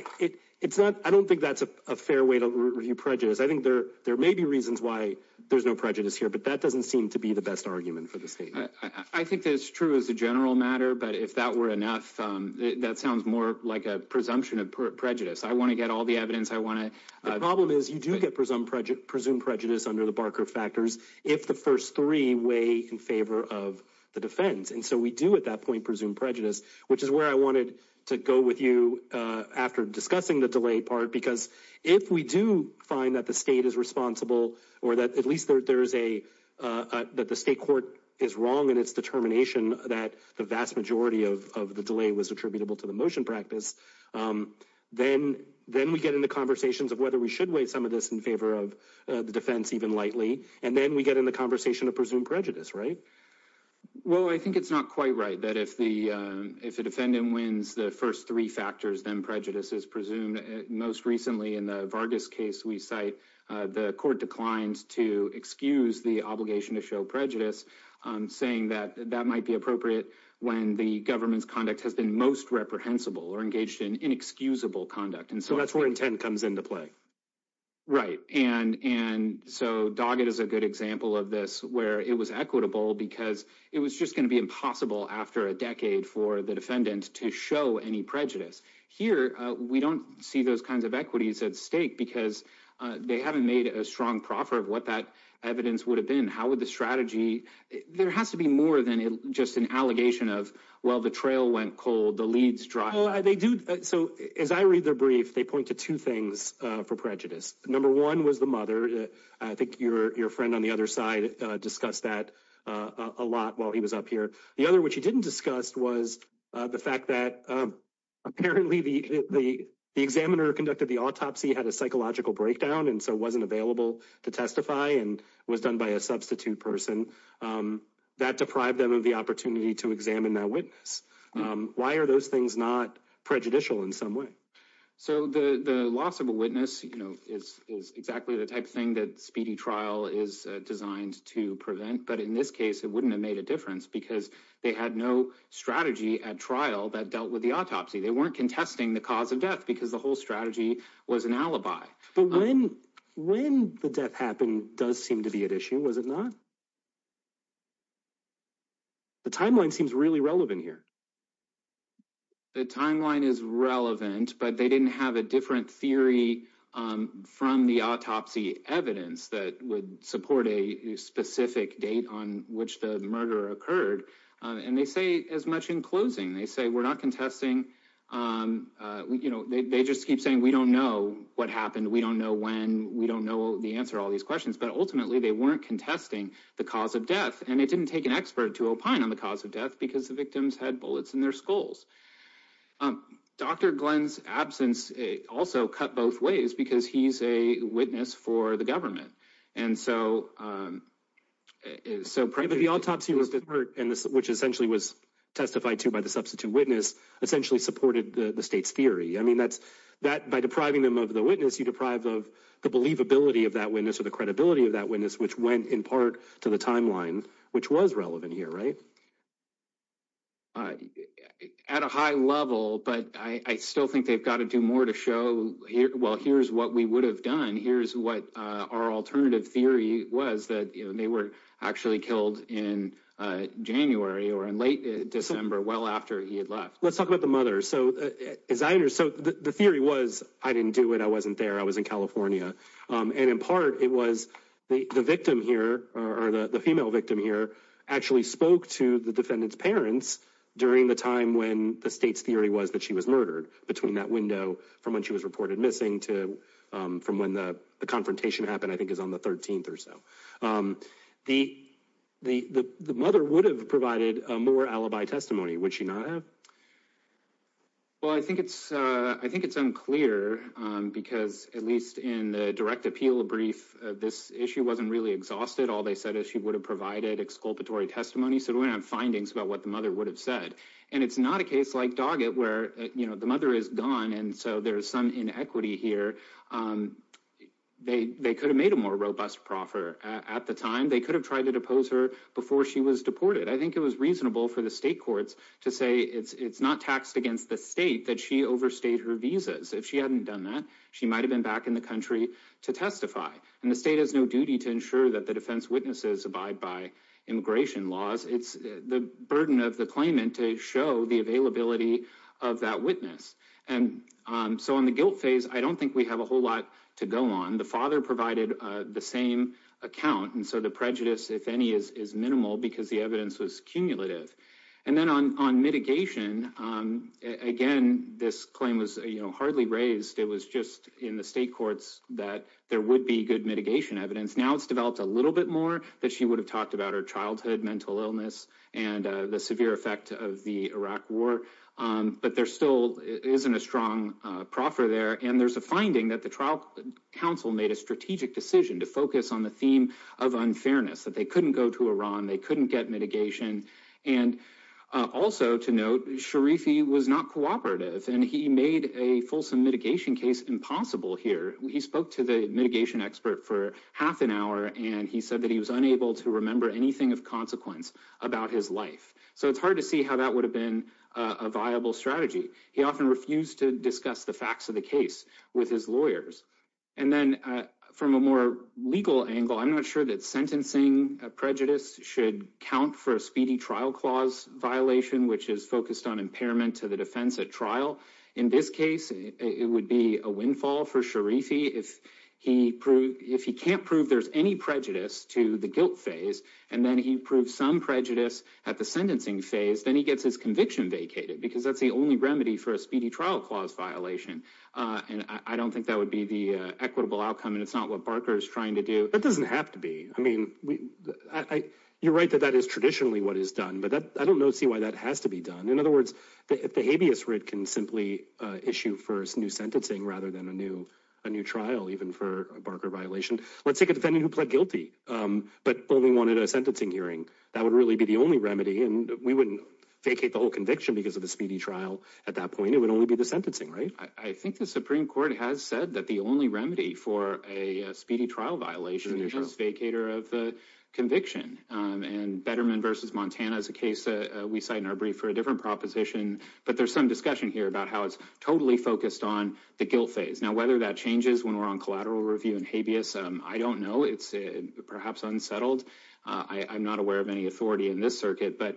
don't think that's a fair way to review prejudice. I think there may be reasons why there's no prejudice here, but that doesn't seem to be the best argument for the state. I think that's true as a general matter. But if that were enough, that sounds more like a presumption of prejudice. I want to get all the evidence I want to. The problem is you do get presumed prejudice under the Barker factors if the first three weigh in favor of the defense. And so we do at that point presume prejudice, which is where I wanted to go with you after discussing the delay part. Because if we do find that the state is responsible or that at least there is a that the state court is wrong in its determination that the vast majority of the delay was attributable to the motion practice. Then then we get into conversations of whether we should weigh some of this in favor of the defense, even lightly. And then we get in the conversation to presume prejudice. Right. Well, I think it's not quite right that if the if a defendant wins the first three factors, then prejudice is presumed. Most recently in the Vargas case, we cite the court declines to excuse the obligation to show prejudice, saying that that might be appropriate when the government's conduct has been most reprehensible or engaged in inexcusable conduct. And so that's where intent comes into play. Right. And and so Doggett is a good example of this, where it was equitable because it was just going to be impossible after a decade for the defendant to show any prejudice here. We don't see those kinds of equities at stake because they haven't made a strong proffer of what that evidence would have been. How would the strategy there has to be more than just an allegation of, well, the trail went cold, the leads dry. They do. So as I read their brief, they point to two things for prejudice. Number one was the mother. I think your friend on the other side discussed that a lot while he was up here. The other which he didn't discuss was the fact that apparently the the examiner conducted the autopsy, had a psychological breakdown and so wasn't available to testify and was done by a substitute person that deprived them of the opportunity to examine that witness. Why are those things not prejudicial in some way? So the loss of a witness is exactly the type of thing that speedy trial is designed to prevent. But in this case, it wouldn't have made a difference because they had no strategy at trial that dealt with the autopsy. They weren't contesting the cause of death because the whole strategy was an alibi. But when when the death happened does seem to be an issue, was it not? The timeline seems really relevant here. The timeline is relevant, but they didn't have a different theory from the autopsy evidence that would support a specific date on which the murder occurred. And they say as much in closing, they say we're not contesting. You know, they just keep saying, we don't know what happened. We don't know when we don't know the answer to all these questions. But ultimately, they weren't contesting the cause of death. And it didn't take an expert to opine on the cause of death because the victims had bullets in their skulls. Dr. Glenn's absence also cut both ways because he's a witness for the government. And so is so pretty. The autopsy was the part in which essentially was testified to by the substitute witness essentially supported the state's theory. I mean, that's that by depriving them of the witness, you deprive of the believability of that witness or the credibility of that witness, which went in part to the timeline, which was relevant here. Right. At a high level, but I still think they've got to do more to show. Well, here's what we would have done. Here's what our alternative theory was that they were actually killed in January or in late December. Well, after he had left, let's talk about the mother. So is either. So the theory was I didn't do it. I wasn't there. I was in California. And in part, it was the victim here or the female victim here actually spoke to the defendant's parents during the time when the state's theory was that she was murdered between that window from when she was reported missing to from when the confrontation happened, I think, is on the 13th or so. The the the mother would have provided more alibi testimony, which, you know. Well, I think it's I think it's unclear, because at least in the direct appeal brief, this issue wasn't really exhausted. All they said is she would have provided exculpatory testimony. So we have findings about what the mother would have said. And it's not a case like Doggett, where the mother is gone. And so there is some inequity here. They they could have made a more robust proffer at the time. They could have tried to depose her before she was deported. I think it was reasonable for the state courts to say it's not taxed against the state that she overstayed her visas. If she hadn't done that, she might have been back in the country to testify. And the state has no duty to ensure that the defense witnesses abide by immigration laws. It's the burden of the claimant to show the availability of that witness. And so on the guilt phase, I don't think we have a whole lot to go on. The father provided the same account. And so the prejudice, if any, is minimal because the evidence was cumulative. And then on on mitigation, again, this claim was hardly raised. It was just in the state courts that there would be good mitigation evidence. Now, it's developed a little bit more that she would have talked about her childhood mental illness and the severe effect of the Iraq war. But there still isn't a strong proffer there. And there's a finding that the trial council made a strategic decision to focus on the theme of unfairness, that they couldn't go to Iran, they couldn't get mitigation. And also to note, Sharifi was not cooperative and he made a fulsome mitigation case impossible here. He spoke to the mitigation expert for half an hour and he said that he was unable to remember anything of consequence about his life. So it's hard to see how that would have been a viable strategy. He often refused to discuss the facts of the case with his lawyers. And then from a more legal angle, I'm not sure that sentencing prejudice should count for a speedy trial clause violation, which is focused on impairment to the defense at trial. In this case, it would be a windfall for Sharifi if he proved if he can't prove there's any prejudice to the guilt phase. And then he proved some prejudice at the sentencing phase. Then he gets his conviction vacated because that's the only remedy for a speedy trial clause violation. And I don't think that would be the equitable outcome. And it's not what Barker is trying to do. That doesn't have to be. I mean, you're right that that is traditionally what is done. But I don't see why that has to be done. In other words, if the habeas writ can simply issue first new sentencing rather than a new a new trial, even for Barker violation. Let's take a defendant who pled guilty but only wanted a sentencing hearing. That would really be the only remedy. And we wouldn't vacate the whole conviction because of the speedy trial. At that point, it would only be the sentencing. Right. I think the Supreme Court has said that the only remedy for a speedy trial violation is vacator of the conviction. And Betterman versus Montana is a case we cite in our brief for a different proposition. But there's some discussion here about how it's totally focused on the guilt phase. Now, whether that changes when we're on collateral review and habeas, I don't know. It's perhaps unsettled. I'm not aware of any authority in this circuit. But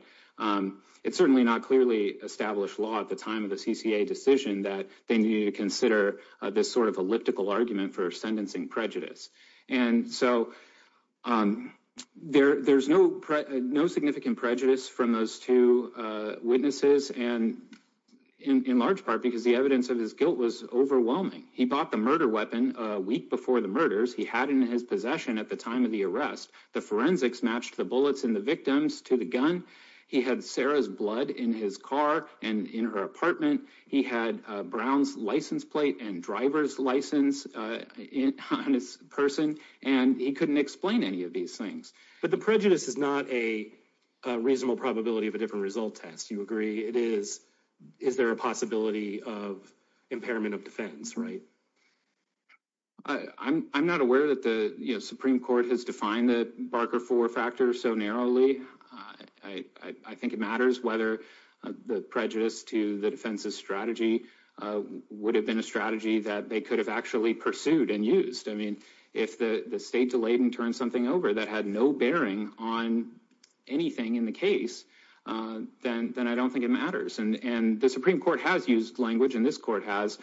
it's certainly not clearly established law at the time of the CCA decision that they need to consider this sort of elliptical argument for sentencing prejudice. And so there there's no no significant prejudice from those two witnesses and in large part because the evidence of his guilt was overwhelming. He bought the murder weapon a week before the murders he had in his possession at the time of the arrest. The forensics matched the bullets in the victims to the gun. He had Sarah's blood in his car and in her apartment. He had Brown's license plate and driver's license in his person, and he couldn't explain any of these things. But the prejudice is not a reasonable probability of a different result test. You agree it is. Is there a possibility of impairment of defense? Right. I'm not aware that the Supreme Court has defined the Barker four factor so narrowly. I think it matters whether the prejudice to the defense's strategy would have been a strategy that they could have actually pursued and used. I mean, if the state delayed and turned something over that had no bearing on anything in the case, then then I don't think it matters. And the Supreme Court has used language in this court has,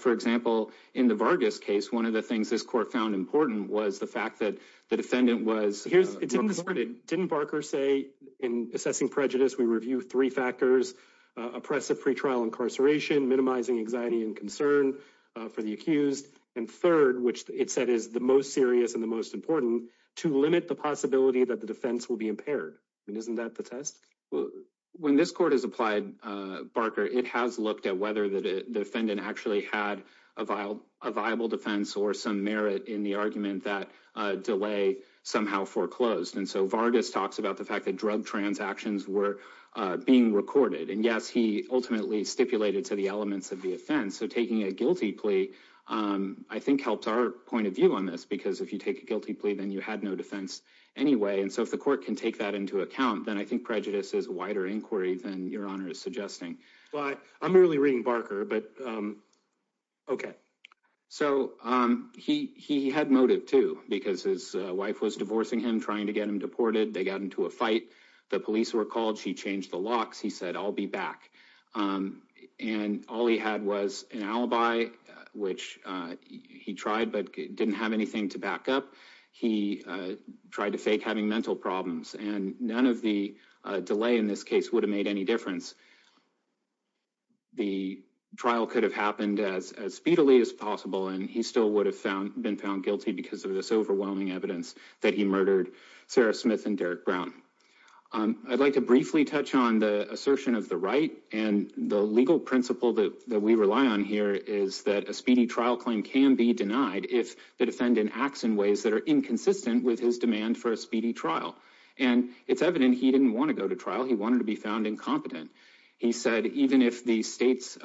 for example, in the Vargas case. One of the things this court found important was the fact that the defendant was here. Didn't Barker say in assessing prejudice, we review three factors, oppressive pretrial incarceration, minimizing anxiety and concern for the accused. And third, which it said is the most serious and the most important to limit the possibility that the defense will be impaired. And isn't that the test? When this court is applied, Barker, it has looked at whether the defendant actually had a vile, a viable defense or some merit in the argument that delay somehow foreclosed. And so Vargas talks about the fact that drug transactions were being recorded. And, yes, he ultimately stipulated to the elements of the offense. So taking a guilty plea, I think, helped our point of view on this, because if you take a guilty plea, then you had no defense anyway. And so if the court can take that into account, then I think prejudice is a wider inquiry than your honor is suggesting. But I'm really reading Barker, but. OK, so he he had motive, too, because his wife was divorcing him, trying to get him deported. They got into a fight. The police were called. She changed the locks. He said, I'll be back. And all he had was an alibi, which he tried, but didn't have anything to back up. He tried to fake having mental problems and none of the delay in this case would have made any difference. The trial could have happened as speedily as possible, and he still would have been found guilty because of this overwhelming evidence that he murdered Sarah Smith and Derrick Brown. I'd like to briefly touch on the assertion of the right and the legal principle that we rely on here is that a speedy trial claim can be denied if the defendant acts in ways that are inconsistent with his demand for a speedy trial. And it's evident he didn't want to go to trial. He wanted to be found incompetent. He said even if the state's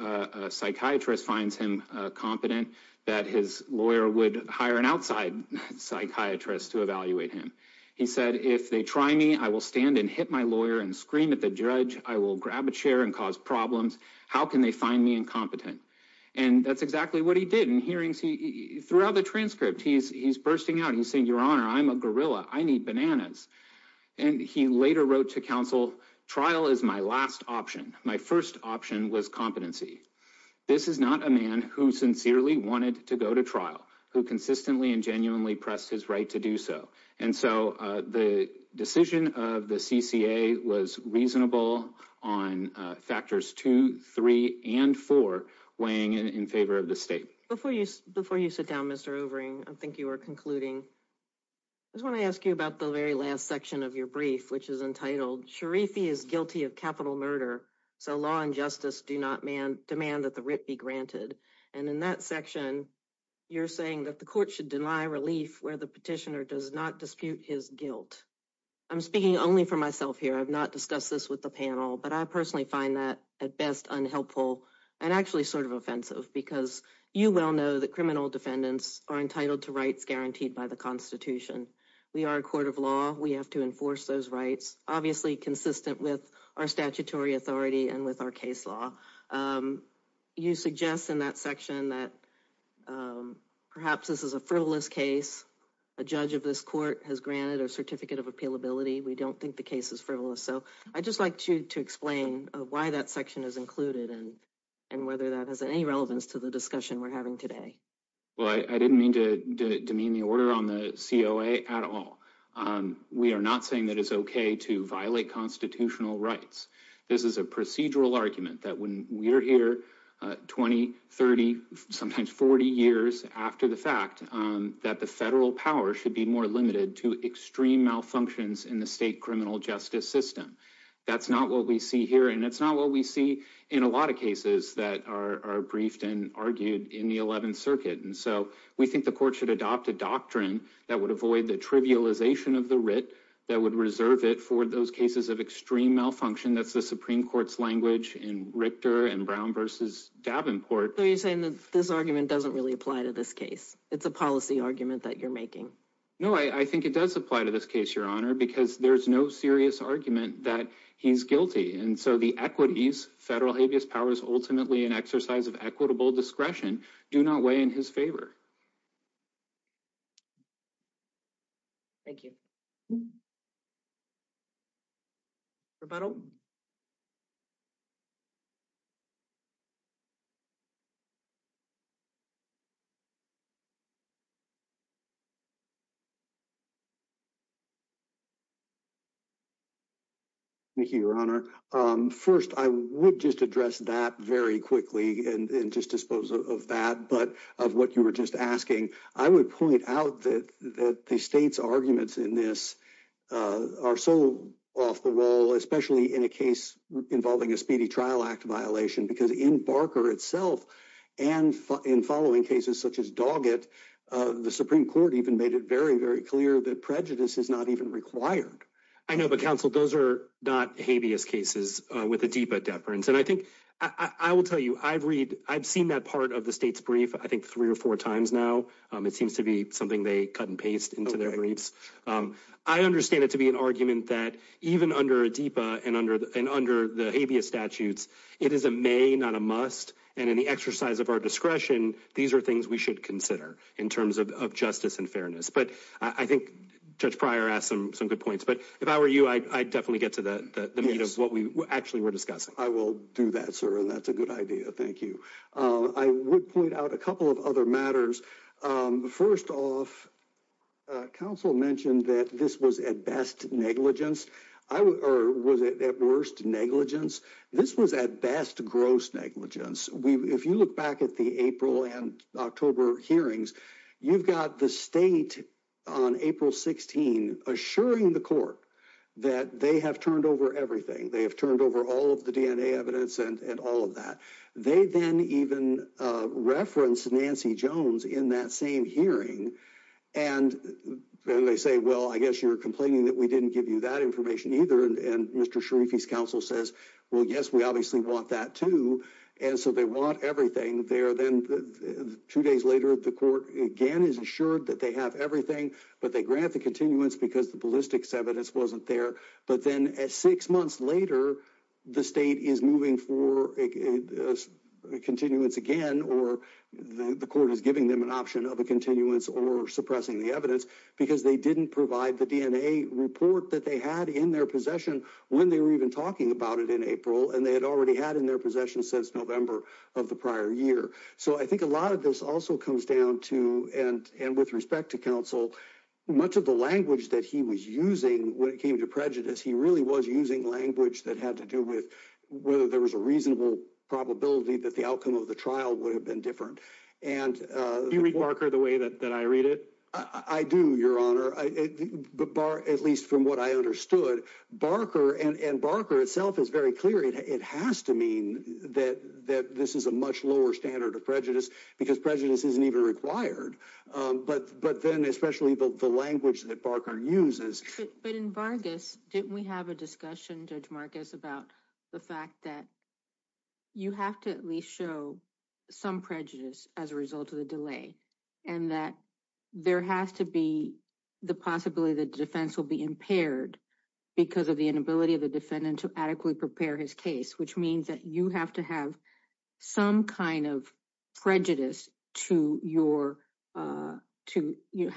psychiatrist finds him competent, that his lawyer would hire an outside psychiatrist to evaluate him. He said, if they try me, I will stand and hit my lawyer and scream at the judge. I will grab a chair and cause problems. How can they find me incompetent? And that's exactly what he did in hearings. He threw out the transcript. He's he's bursting out. He's saying, your honor, I'm a gorilla. I need bananas. And he later wrote to counsel. Trial is my last option. My first option was competency. This is not a man who sincerely wanted to go to trial, who consistently and genuinely pressed his right to do so. And so the decision of the CCA was reasonable on factors two, three and four weighing in favor of the state. Before you before you sit down, Mr. Overing, I think you are concluding. I want to ask you about the very last section of your brief, which is entitled Sharifi is guilty of capital murder. So law and justice do not demand that the writ be granted. And in that section, you're saying that the court should deny relief where the petitioner does not dispute his guilt. I'm speaking only for myself here. I've not discussed this with the panel, but I personally find that at best unhelpful and actually sort of offensive, because you well know that criminal defendants are entitled to rights guaranteed by the Constitution. We are a court of law. We have to enforce those rights, obviously consistent with our statutory authority and with our case law. You suggest in that section that perhaps this is a frivolous case. A judge of this court has granted a certificate of appeal ability. We don't think the case is frivolous. So I just like to explain why that section is included and and whether that has any relevance to the discussion we're having today. Well, I didn't mean to demean the order on the COA at all. We are not saying that it's OK to violate constitutional rights. This is a procedural argument that when we're here 20, 30, sometimes 40 years after the fact that the federal power should be more limited to extreme malfunctions in the state criminal justice system. That's not what we see here. And it's not what we see in a lot of cases that are briefed and argued in the 11th Circuit. And so we think the court should adopt a doctrine that would avoid the trivialization of the writ that would reserve it for those cases of extreme malfunction. That's the Supreme Court's language in Richter and Brown versus Davenport. Are you saying that this argument doesn't really apply to this case? It's a policy argument that you're making. No, I think it does apply to this case, Your Honor, because there is no serious argument that he's guilty. And so the equities federal habeas powers, ultimately an exercise of equitable discretion, do not weigh in his favor. Thank you. Rebuttal. Thank you, Your Honor. First, I would just address that very quickly and just dispose of that. But of what you were just asking, I would point out that the state's arguments in this are so off the wall, especially in a case involving a speedy trial act violation. Because in Barker itself and in following cases such as Doggett, the Supreme Court even made it very, very clear that prejudice is not even required. I know, but counsel, those are not habeas cases with a DIPA deference. And I think I will tell you, I've read I've seen that part of the state's brief, I think, three or four times now. It seems to be something they cut and paste into their briefs. I understand it to be an argument that even under a DIPA and under and under the habeas statutes, it is a may, not a must. And in the exercise of our discretion, these are things we should consider in terms of justice and fairness. But I think Judge Pryor asked some good points. But if I were you, I'd definitely get to the meat of what we actually were discussing. I will do that, sir. And that's a good idea. Thank you. I would point out a couple of other matters. First off, counsel mentioned that this was at best negligence. I was at worst negligence. This was at best gross negligence. If you look back at the April and October hearings, you've got the state on April 16 assuring the court that they have turned over everything. They have turned over all of the DNA evidence and all of that. They then even referenced Nancy Jones in that same hearing. And they say, well, I guess you're complaining that we didn't give you that information either. And Mr. Sharifi's counsel says, well, yes, we obviously want that, too. And so they want everything there. Then two days later, the court again is assured that they have everything. But they grant the continuance because the ballistics evidence wasn't there. But then at six months later, the state is moving for a continuance again. Or the court is giving them an option of a continuance or suppressing the evidence because they didn't provide the DNA report that they had in their possession when they were even talking about it in April. And they had already had in their possession since November of the prior year. So I think a lot of this also comes down to and with respect to counsel, much of the language that he was using when it came to prejudice, he really was using language that had to do with whether there was a reasonable probability that the outcome of the trial would have been different. And you read Barker the way that I read it. I do, Your Honor. At least from what I understood, Barker and Barker itself is very clear. It has to mean that that this is a much lower standard of prejudice because prejudice isn't even required. But then especially the language that Barker uses. But in Vargas, didn't we have a discussion, Judge Marcus, about the fact that you have to at least show some prejudice as a result of the delay? And that there has to be the possibility that the defense will be impaired because of the inability of the defendant to adequately prepare his case, which means that you have to have some kind of prejudice to how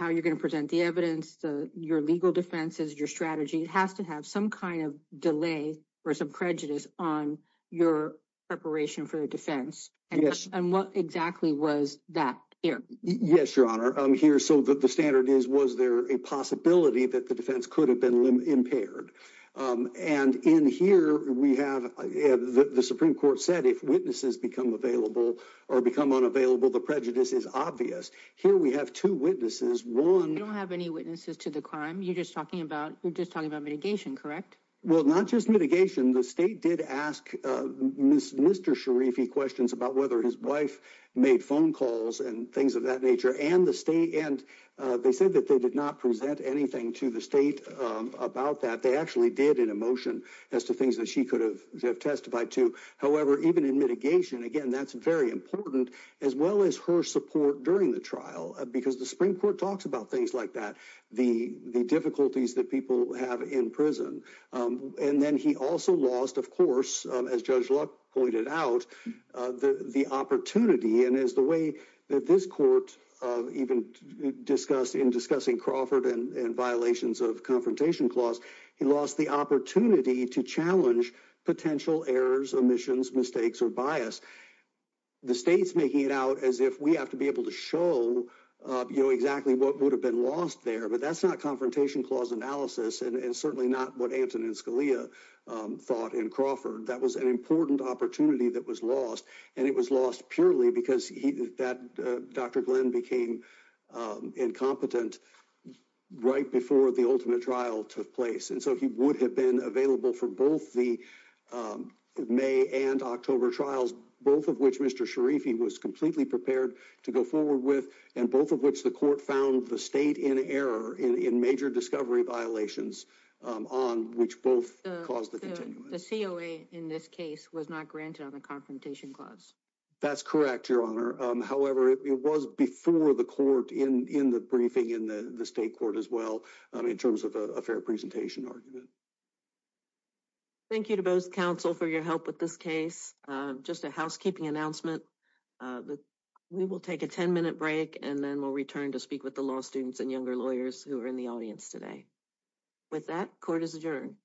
you're going to present the evidence, your legal defenses, your strategy. It has to have some kind of delay or some prejudice on your preparation for the defense. Yes. And what exactly was that here? Yes, Your Honor. Here, so the standard is, was there a possibility that the defense could have been impaired? And in here, we have the Supreme Court said if witnesses become available or become unavailable, the prejudice is obvious. Here we have two witnesses. We don't have any witnesses to the crime. You're just talking about mitigation, correct? Well, not just mitigation. The state did ask Mr. Sharifi questions about whether his wife made phone calls and things of that nature. And they said that they did not present anything to the state about that. They actually did in a motion as to things that she could have testified to. However, even in mitigation, again, that's very important, as well as her support during the trial, because the Supreme Court talks about things like that, the difficulties that people have in prison. And then he also lost, of course, as Judge Luck pointed out, the opportunity. And as the way that this court even discussed in discussing Crawford and violations of confrontation clause, he lost the opportunity to challenge potential errors, omissions, mistakes, or bias. The state's making it out as if we have to be able to show exactly what would have been lost there. But that's not confrontation clause analysis and certainly not what Antonin Scalia thought in Crawford. That was an important opportunity that was lost. And it was lost purely because Dr. Glenn became incompetent right before the ultimate trial took place. And so he would have been available for both the May and October trials, both of which Mr. Sharifi was completely prepared to go forward with, and both of which the court found the state in error in major discovery violations on which both caused the COA. In this case was not granted on the confrontation clause. That's correct, Your Honor. However, it was before the court in the briefing in the state court as well in terms of a fair presentation argument. Thank you to both counsel for your help with this case. Just a housekeeping announcement. We will take a 10 minute break and then we'll return to speak with the law students and younger lawyers who are in the audience today. With that, court is adjourned.